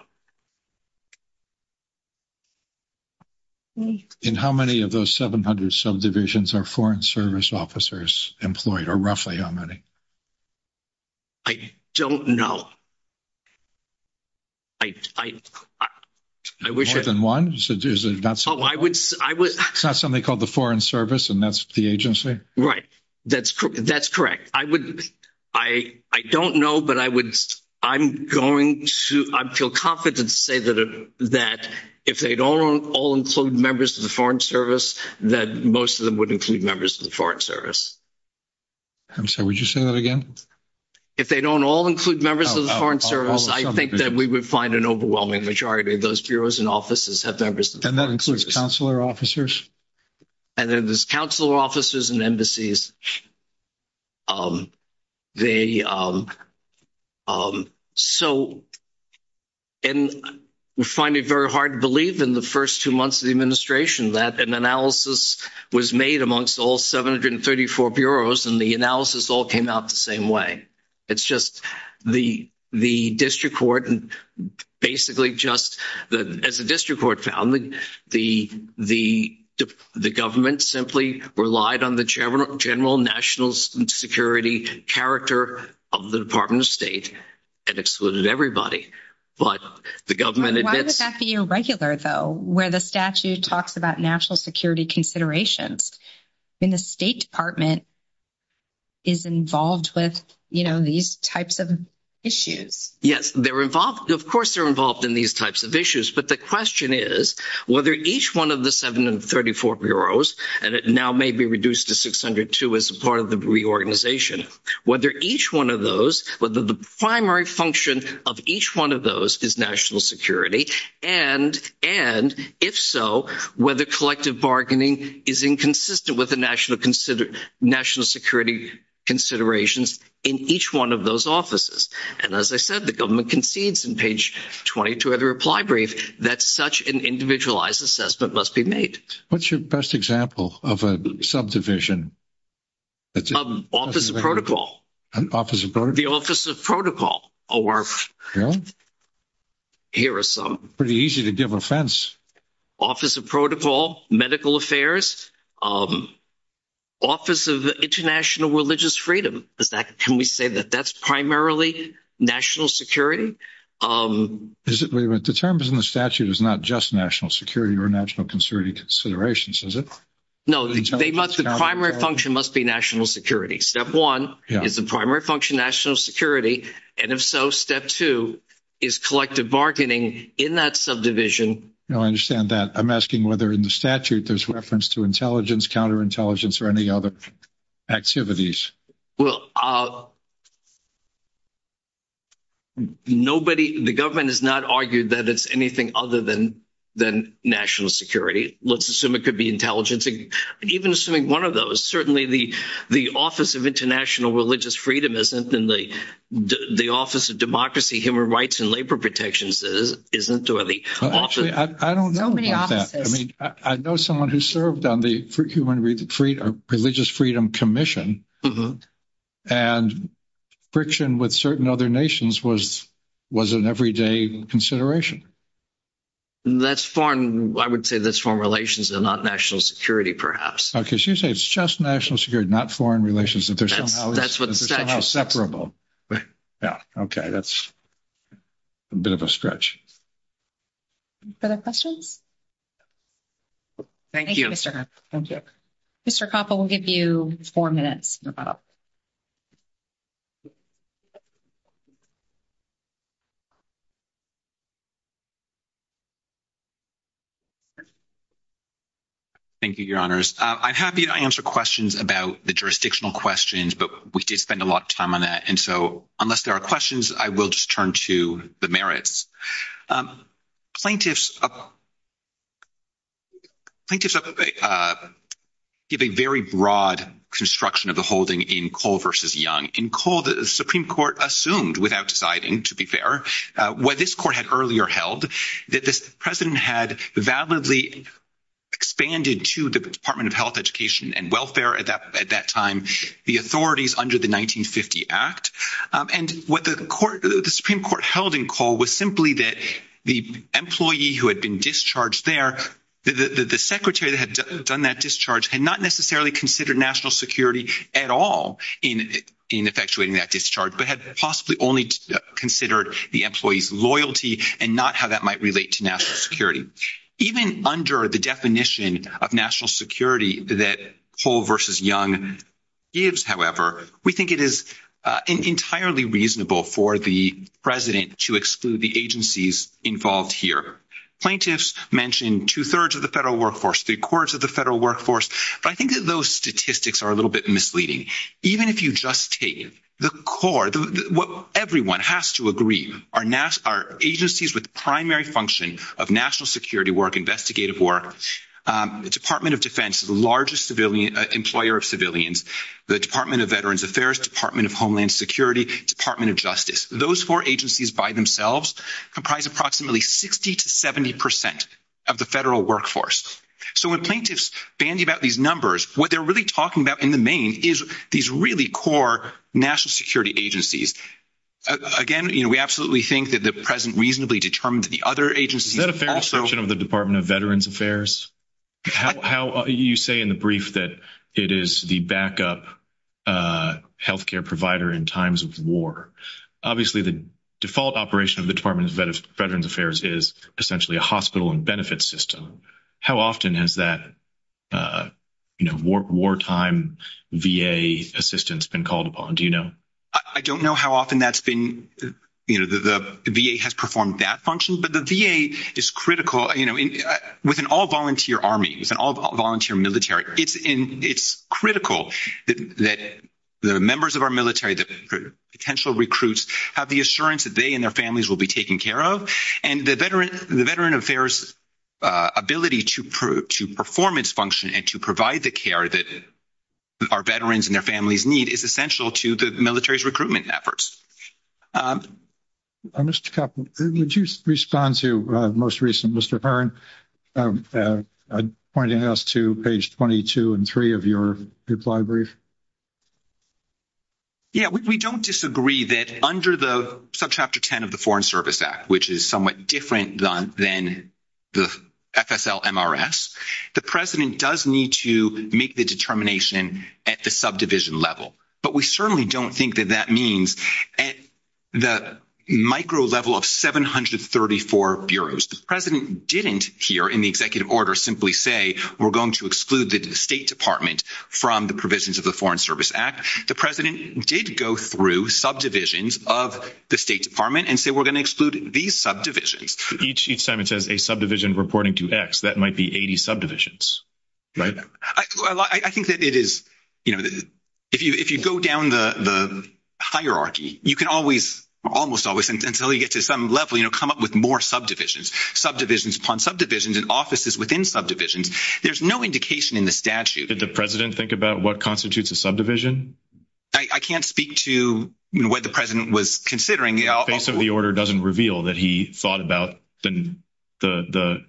And how many of those 700 subdivisions are Foreign Service officers employed, or roughly how many? I don't know. I... More than one? Oh, I would... It's not something called the Foreign Service, and that's the agency? Right, that's correct. I would... I don't know, but I would... I'm going to... I feel confident to say that if they don't all include members of the Foreign Service, that most of them would include members of the Foreign Service. And so would you say that again? If they don't all include members of the Foreign Service, I think that we would find an overwhelming majority of those bureaus and offices have members of the Foreign Service. And that includes consular officers? And then there's consular officers and embassies. They... So... And we find it very hard to believe in the first two months of the administration that an analysis was made amongst all 734 bureaus, and the analysis all came out the same way. It's just the district court basically just... As the district court found, the government simply relied on the general national security character of the Department of State and excluded everybody. But the government... Why would that be irregular, though, where the statute talks about national security considerations and the State Department is involved with, you know, these types of issues? Yes, they're involved. Of course, they're involved in these types of issues. But the question is whether each one of the 734 bureaus, and it now may be reduced to 602 as part of the reorganization, whether each one of those, whether the primary function of each one of those is national security, and if so, whether collective bargaining is inconsistent with the national security considerations in each one of those offices. And as I said, the government concedes in page 22 of the reply brief that such an individualized assessment must be made. What's your best example of a subdivision? Office of Protocol. Office of Protocol? The Office of Protocol. Here are some. Pretty easy to give offense. Office of Protocol, Medical Affairs, Office of International Religious Freedom. Can we say that that's primarily national security? The terms in the statute is not just national security or national security considerations, is it? No, the primary function must be national security. Step one is the primary function national security, and if so, step two is collective bargaining in that subdivision. No, I understand that. I'm asking whether in the statute there's reference to intelligence, counterintelligence, or any other activities. nobody, the government has not argued that it's anything other than national security. Let's assume it could be intelligence. Even assuming one of those, certainly the Office of International Religious Freedom isn't in the Office of Democracy, Human Rights, and Labor Protections, isn't it? I don't know about that. I mean, I know someone who served on the Religious Freedom Commission, and friction with certain other nations was an everyday consideration. That's foreign, I would say that's foreign relations, and not national security, perhaps. Okay, so you say it's just national security, not foreign relations. That's what the statute says. It's somehow separable. Yeah, okay, that's a bit of a stretch. Other questions? Thank you. Thank you, Mr. Hoppe. Mr. Hoppe, we'll give you four minutes. Thank you, Your Honors. I'm happy to answer questions about the jurisdictional questions, but we did spend a lot of time on that, and so unless there are questions, I will just turn to the merits. Plaintiffs give a very broad construction of the holding in Cole v. Young. In Cole, the Supreme Court assumed, without deciding, to be fair, what this Court had earlier held, that the President had validly expanded to the Department of Health, Education, and Welfare at that time, the authorities under the 1950 Act. And what the Supreme Court held in Cole was simply that the employee who had been discharged there, the secretary that had done that discharge, had not necessarily considered national security at all in effectuating that discharge, but had possibly only considered the employee's loyalty and not how that might relate to national security. Even under the definition of national security that Cole v. Young gives, however, we think it is entirely reasonable for the President to exclude the agencies involved here. Plaintiffs mention two-thirds of the federal workforce, three-quarters of the federal workforce, but I think that those statistics are a little bit misleading. Even if you just take the core, what everyone has to agree are agencies with primary function of national security work, investigative work, Department of Defense, the largest employer of civilians, the Department of Veterans Affairs, Department of Homeland Security, Department of Justice. Those four agencies by themselves comprise approximately 60% to 70% of the federal workforce. So when plaintiffs bandy about these numbers, what they're really talking about in the main is these really core national security agencies. Again, we absolutely think that the President reasonably determined the other agencies... Is that a fair assertion of the Department of Veterans Affairs? You say in the brief that it is the backup healthcare provider in times of war. Obviously, the default operation of the Department of Veterans Affairs is essentially a hospital and benefit system. How often has that wartime VA assistance been called upon? Do you know? I don't know how often that's been... The VA has performed that function, but the VA is critical. With an all-volunteer army, with an all-volunteer military, it's critical that the members of our military, the potential recruits, have the assurance that they and their families will be taken care of. And the Veterans Affairs ability to perform its function and to provide the care that our veterans and their families need is essential to the military's recruitment efforts. Mr. Kaplan, would you respond to the most recent, Mr. Byrne, pointing us to page 22 and 3 of your reply brief? Yeah, we don't disagree that under the subchapter 10 of the Foreign Service Act, which is somewhat different than the FSL-MRS, the President does need to make the determination at the subdivision level. But we certainly don't think that that means at the micro level of 734 bureaus. The President didn't here in the executive order simply say we're going to exclude the State Department from the provisions of the Foreign Service Act. The President did go through subdivisions of the State Department and say we're going to exclude these subdivisions. Each time it says a subdivision reporting to X, that might be 80 subdivisions, right? I think that it is, you know, if you go down the hierarchy, you can always, almost always, until you get to some level, you know, come up with more subdivisions. Subdivisions upon subdivisions and offices within subdivisions. There's no indication in the statute. Did the President think about what constitutes a subdivision? I can't speak to what the President was considering. I think the order doesn't reveal that he thought about the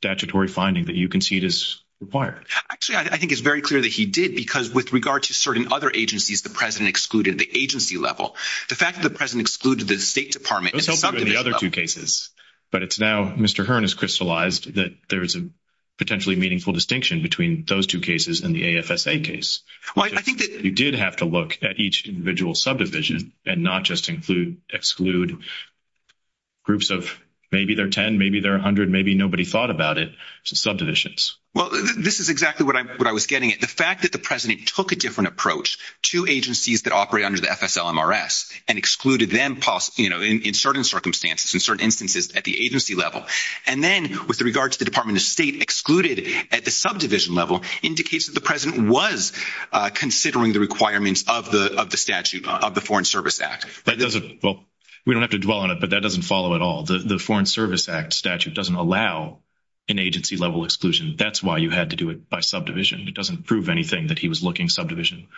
statutory finding that you concede is required. Actually, I think it's very clear that he did because with regard to certain other agencies, the President excluded the agency level. The fact that the President excluded the State Department... Those don't include the other two cases, but it's now Mr. Hearn has crystallized that there is a potentially meaningful distinction between those two cases and the AFSA case. Well, I think that... He did have to look at each individual subdivision and not just exclude groups of maybe they're 10, maybe they're 100, maybe nobody thought about it. Subdivisions. Well, this is exactly what I was getting at. The fact that the President took a different approach to agencies that operate under the FSLMRS and excluded them in certain circumstances, in certain instances at the agency level, and then with regard to the Department of State excluded at the subdivision level indicates that the President was considering the requirements of the statute of the Foreign Service Act. That doesn't... Well, we don't have to dwell on it, but that doesn't follow at all. The Foreign Service Act statute doesn't allow an agency-level exclusion. That's why you had to do it by subdivision. It doesn't prove anything that he was looking subdivision...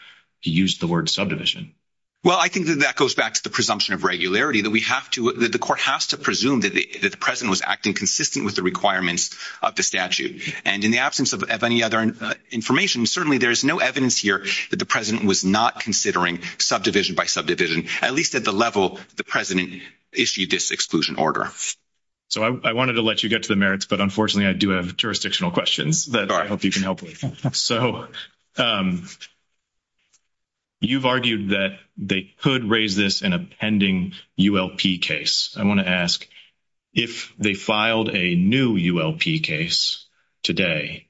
He used the word subdivision. Well, I think that that goes back to the presumption of regularity, that we have to... That the court has to presume that the President was acting consistent with the requirements of the statute. And in the absence of any other information, certainly there's no evidence here that the President was not considering subdivision by subdivision, at least at the level the President issued this exclusion order. So, I wanted to let you get to the merits, but unfortunately I do have jurisdictional questions. But I hope you can help me. So, you've argued that they could raise this in a pending ULP case. I want to ask, if they filed a new ULP case today,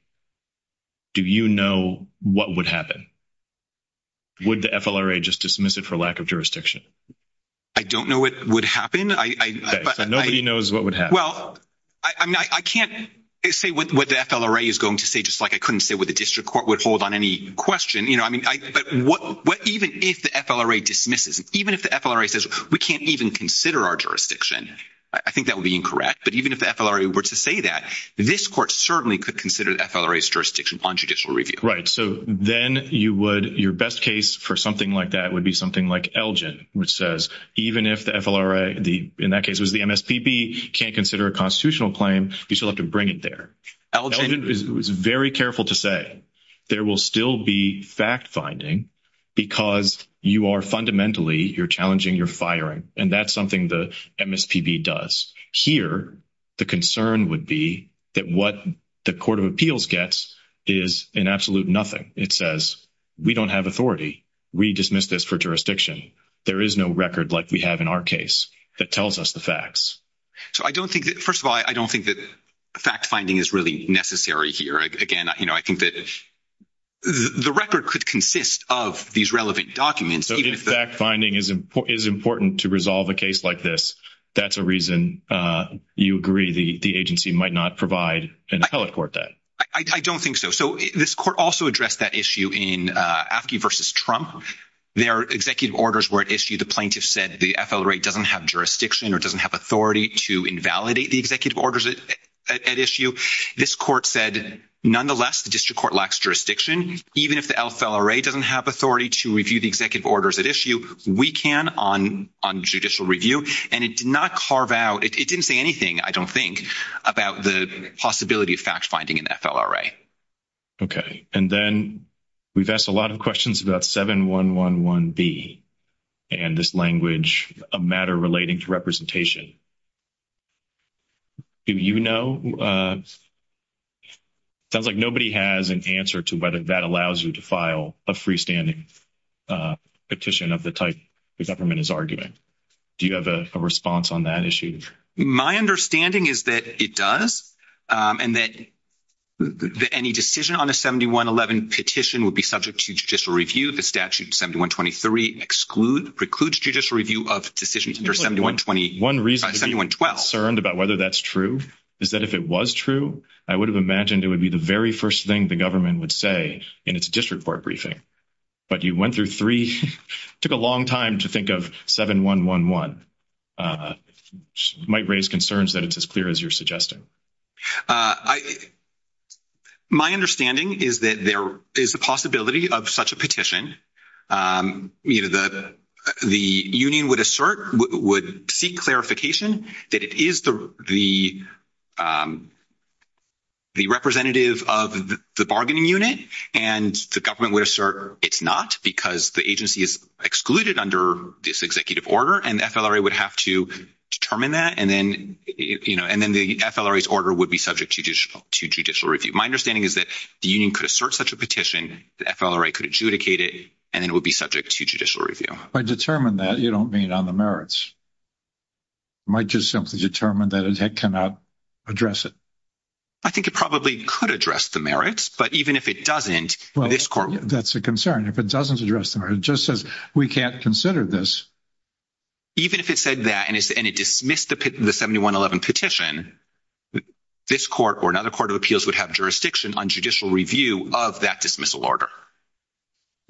do you know what would happen? Would the FLRA just dismiss it for lack of jurisdiction? I don't know what would happen. Nobody knows what would happen. I can't say what the FLRA is going to say, just like I couldn't say what the district court would hold on any question. But even if the FLRA dismisses it, even if the FLRA says, we can't even consider our jurisdiction, I think that would be incorrect. But even if the FLRA were to say that, this court certainly could consider the FLRA's jurisdiction on judicial review. So, then your best case for something like that would be something like Elgin, which says, even if the FLRA, in that case it was the MSPB, can't consider a constitutional claim, you still have to bring it there. Elgin is very careful to say there will still be fact-finding because you are fundamentally, you're challenging, you're firing. And that's something the MSPB does. Here, the concern would be that what the Court of Appeals gets is an absolute nothing. It says, we don't have authority. We dismiss this for jurisdiction. There is no record like we have in our case that tells us the facts. So, I don't think that, first of all, I don't think that fact-finding is really necessary here. Again, you know, I think that the record could consist of these relevant documents. So, if fact-finding is important to resolve a case like this, that's a reason you agree the agency might not provide an appellate court that. I don't think so. So, this court also addressed that issue in Apki v. Trump. Their executive orders were at issue. The plaintiff said the FLRA doesn't have jurisdiction or doesn't have authority to invalidate the executive orders at issue. This court said, the district court lacks jurisdiction. Even if the FLRA doesn't have authority to review the executive orders at issue, we can on judicial review. And it did not carve out, it didn't say anything, I don't think, about the possibility of fact-finding in the FLRA. Okay. And then, we've asked a lot of questions about 7111B and this language, a matter relating to representation. Do you know? It sounds like nobody has an answer to whether that allows you to file a freestanding petition of the type the government is arguing. Do you have a response on that issue? My understanding is that it does and that any decision on a 7111 petition would be subject to judicial review. The statute 7123 precludes judicial review of decisions under 7112. One reason to be concerned about whether that's true is that if it was true, I would have imagined it would be the very first thing the government would say in its district court briefing. But you went through three, took a long time to think of 7111. It might raise concerns that it's as clear as you're suggesting. My understanding is that there is the possibility of such a petition. The union would assert, would seek clarification that it is the representative of the bargaining unit and the government would assert it's not because the agency is excluded under this executive order and the FLRA would have to determine that and then the FLRA's order would be subject to judicial review. My understanding is that the union could assert such a petition, the FLRA could adjudicate it, and then it would be subject to judicial review. By determine that, you don't mean on the merits. It might just simply determine that it cannot address it. I think it probably could address the merits, but even if it doesn't, this court... That's a concern. If it doesn't address the merits, it just says we can't consider this. Even if it said that and it dismissed the 711 petition, this court or another court of appeals would have jurisdiction on judicial review of that dismissal order.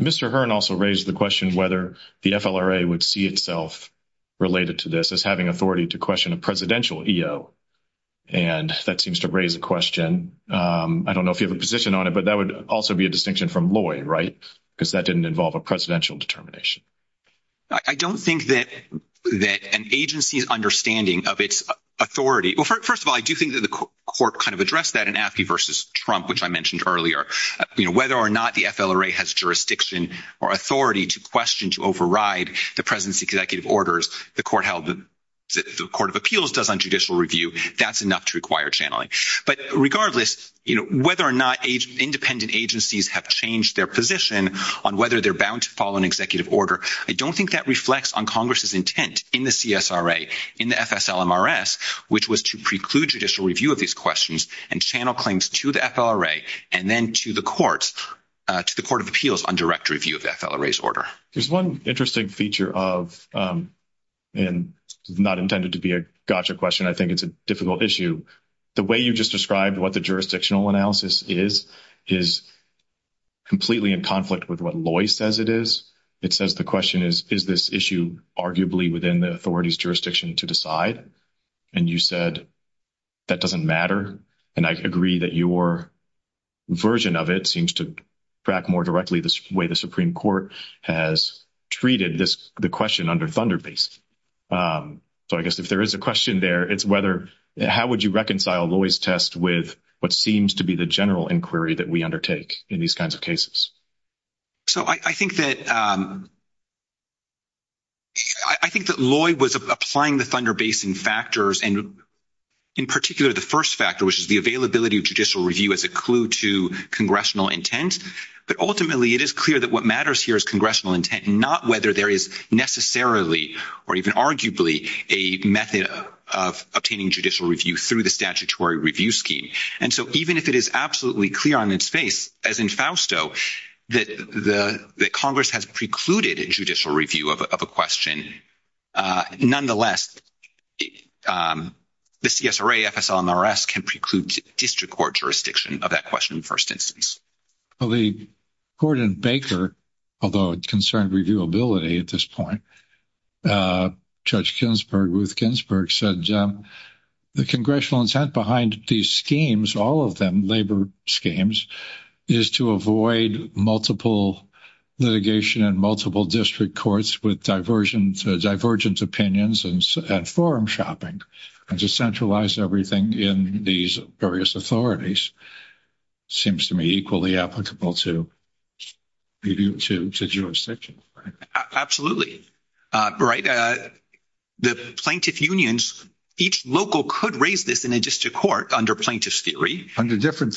Mr. Hearn also raised the question whether the FLRA would see itself related to this as having authority to question a presidential EO and that seems to raise the question. I don't know if you have a position on it, but that would also be a distinction from Lloyd, right? Because that didn't involve a presidential determination. I don't think that an agency's understanding of its authority... First of all, I do think that the court kind of addressed that in Appie v. Trump, which I mentioned earlier. Whether or not the FLRA has jurisdiction or authority to question, to override the presidency executive orders the court of appeals does on judicial review, that's enough to require channeling. Regardless, whether or not independent agencies have changed their position on whether they're bound to follow an executive order, I don't think that reflects on Congress's intent in the CSRA, in the FSLMRS, which was to preclude judicial review of these questions and channel claims to the FLRA and then to the courts, to the court of appeals on direct review of the FLRA's order. There's one interesting feature of... and not intended to be a gotcha question, I think it's a difficult issue. The way you just described what the jurisdictional analysis is is completely in conflict with what Loy says it is. It says the question is, is this issue arguably within the authority's jurisdiction to decide? And you said, that doesn't matter. And I agree that your version of it seems to track more directly the way the Supreme Court has treated the question under ThunderBase. So I guess if there is a question there, it's whether... how would you reconcile Loy's test with what seems to be the general inquiry that we undertake in these kinds of cases? So I think that... I think that Loy was applying the ThunderBase in factors and in particular, the first factor, which is the availability of judicial review as a clue to congressional intent. But ultimately, it is clear that what matters here is congressional intent, not whether there is necessarily or even arguably a method of obtaining judicial review through the statutory review scheme. And so even if it is absolutely clear on its face, as in Fausto, that Congress has precluded a judicial review of a question, nonetheless, the CSRA, FSL, and the rest can preclude district court jurisdiction of that question in first instance. Well, the court in Baker, although it concerned reviewability at this point, Judge Ginsburg, Ruth Ginsburg, said the congressional intent behind these schemes, all of them labor schemes, is to avoid multiple litigation in multiple district courts with divergent opinions and forum shopping. And to centralize everything in these various authorities seems to me equally applicable to review to jurisdictions. Absolutely. The plaintiff unions, each local could raise this in a district court under plaintiff's theory. In different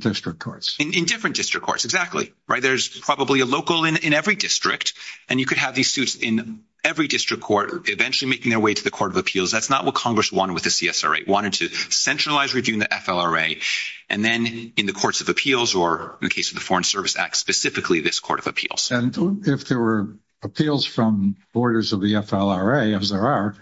district courts. In different district courts, exactly. There's probably a local in every district and you could have these suits in every district court eventually making their way to the court of appeals. That's not what Congress wanted with the CSRA. It wanted to centralize reviewing the FLRA and then in the courts of appeals or in the case of the Foreign Service Act, specifically this court of appeals. And if there were appeals from borders of the FLRA, as there are,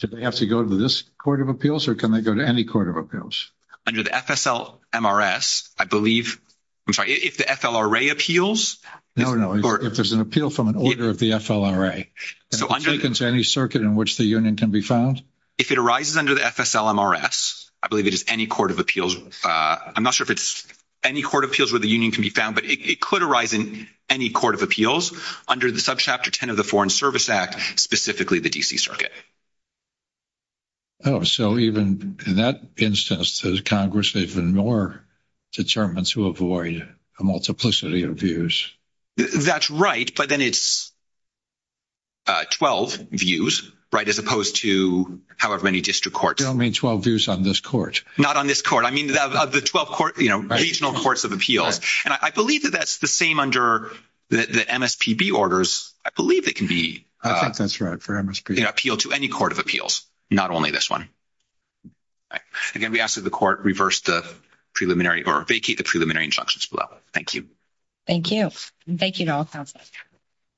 do they have to go to this court of appeals or can they go to any court of appeals? Under the FSLMRS, I believe, I'm sorry, if the FLRA appeals. No, no. If there's an appeal from an order of the FLRA, it can go to any circuit in which the union can be found? If it arises under the FSLMRS, I believe it is any court of appeals. I'm not sure if it's any court of appeals where the union can be found, but it could arise in any court of appeals under the subchapter 10 of the Foreign Service Act, specifically the DC circuit. So even in that instance, does Congress even more determine to avoid a multiplicity of views? That's right, but then it's 12 views, as opposed to however many district courts. You don't mean 12 views on this court? Not on this court. I mean, the 12 court, regional courts of appeals. And I believe that that's the same under the MSPB orders. I believe it can be. I think that's right for MSPB. It can appeal to any court of appeals, not only this one. Again, we ask that the court reverse the preliminary or vacate the preliminary injunctions below. Thank you. Thank you. Thank you at all times.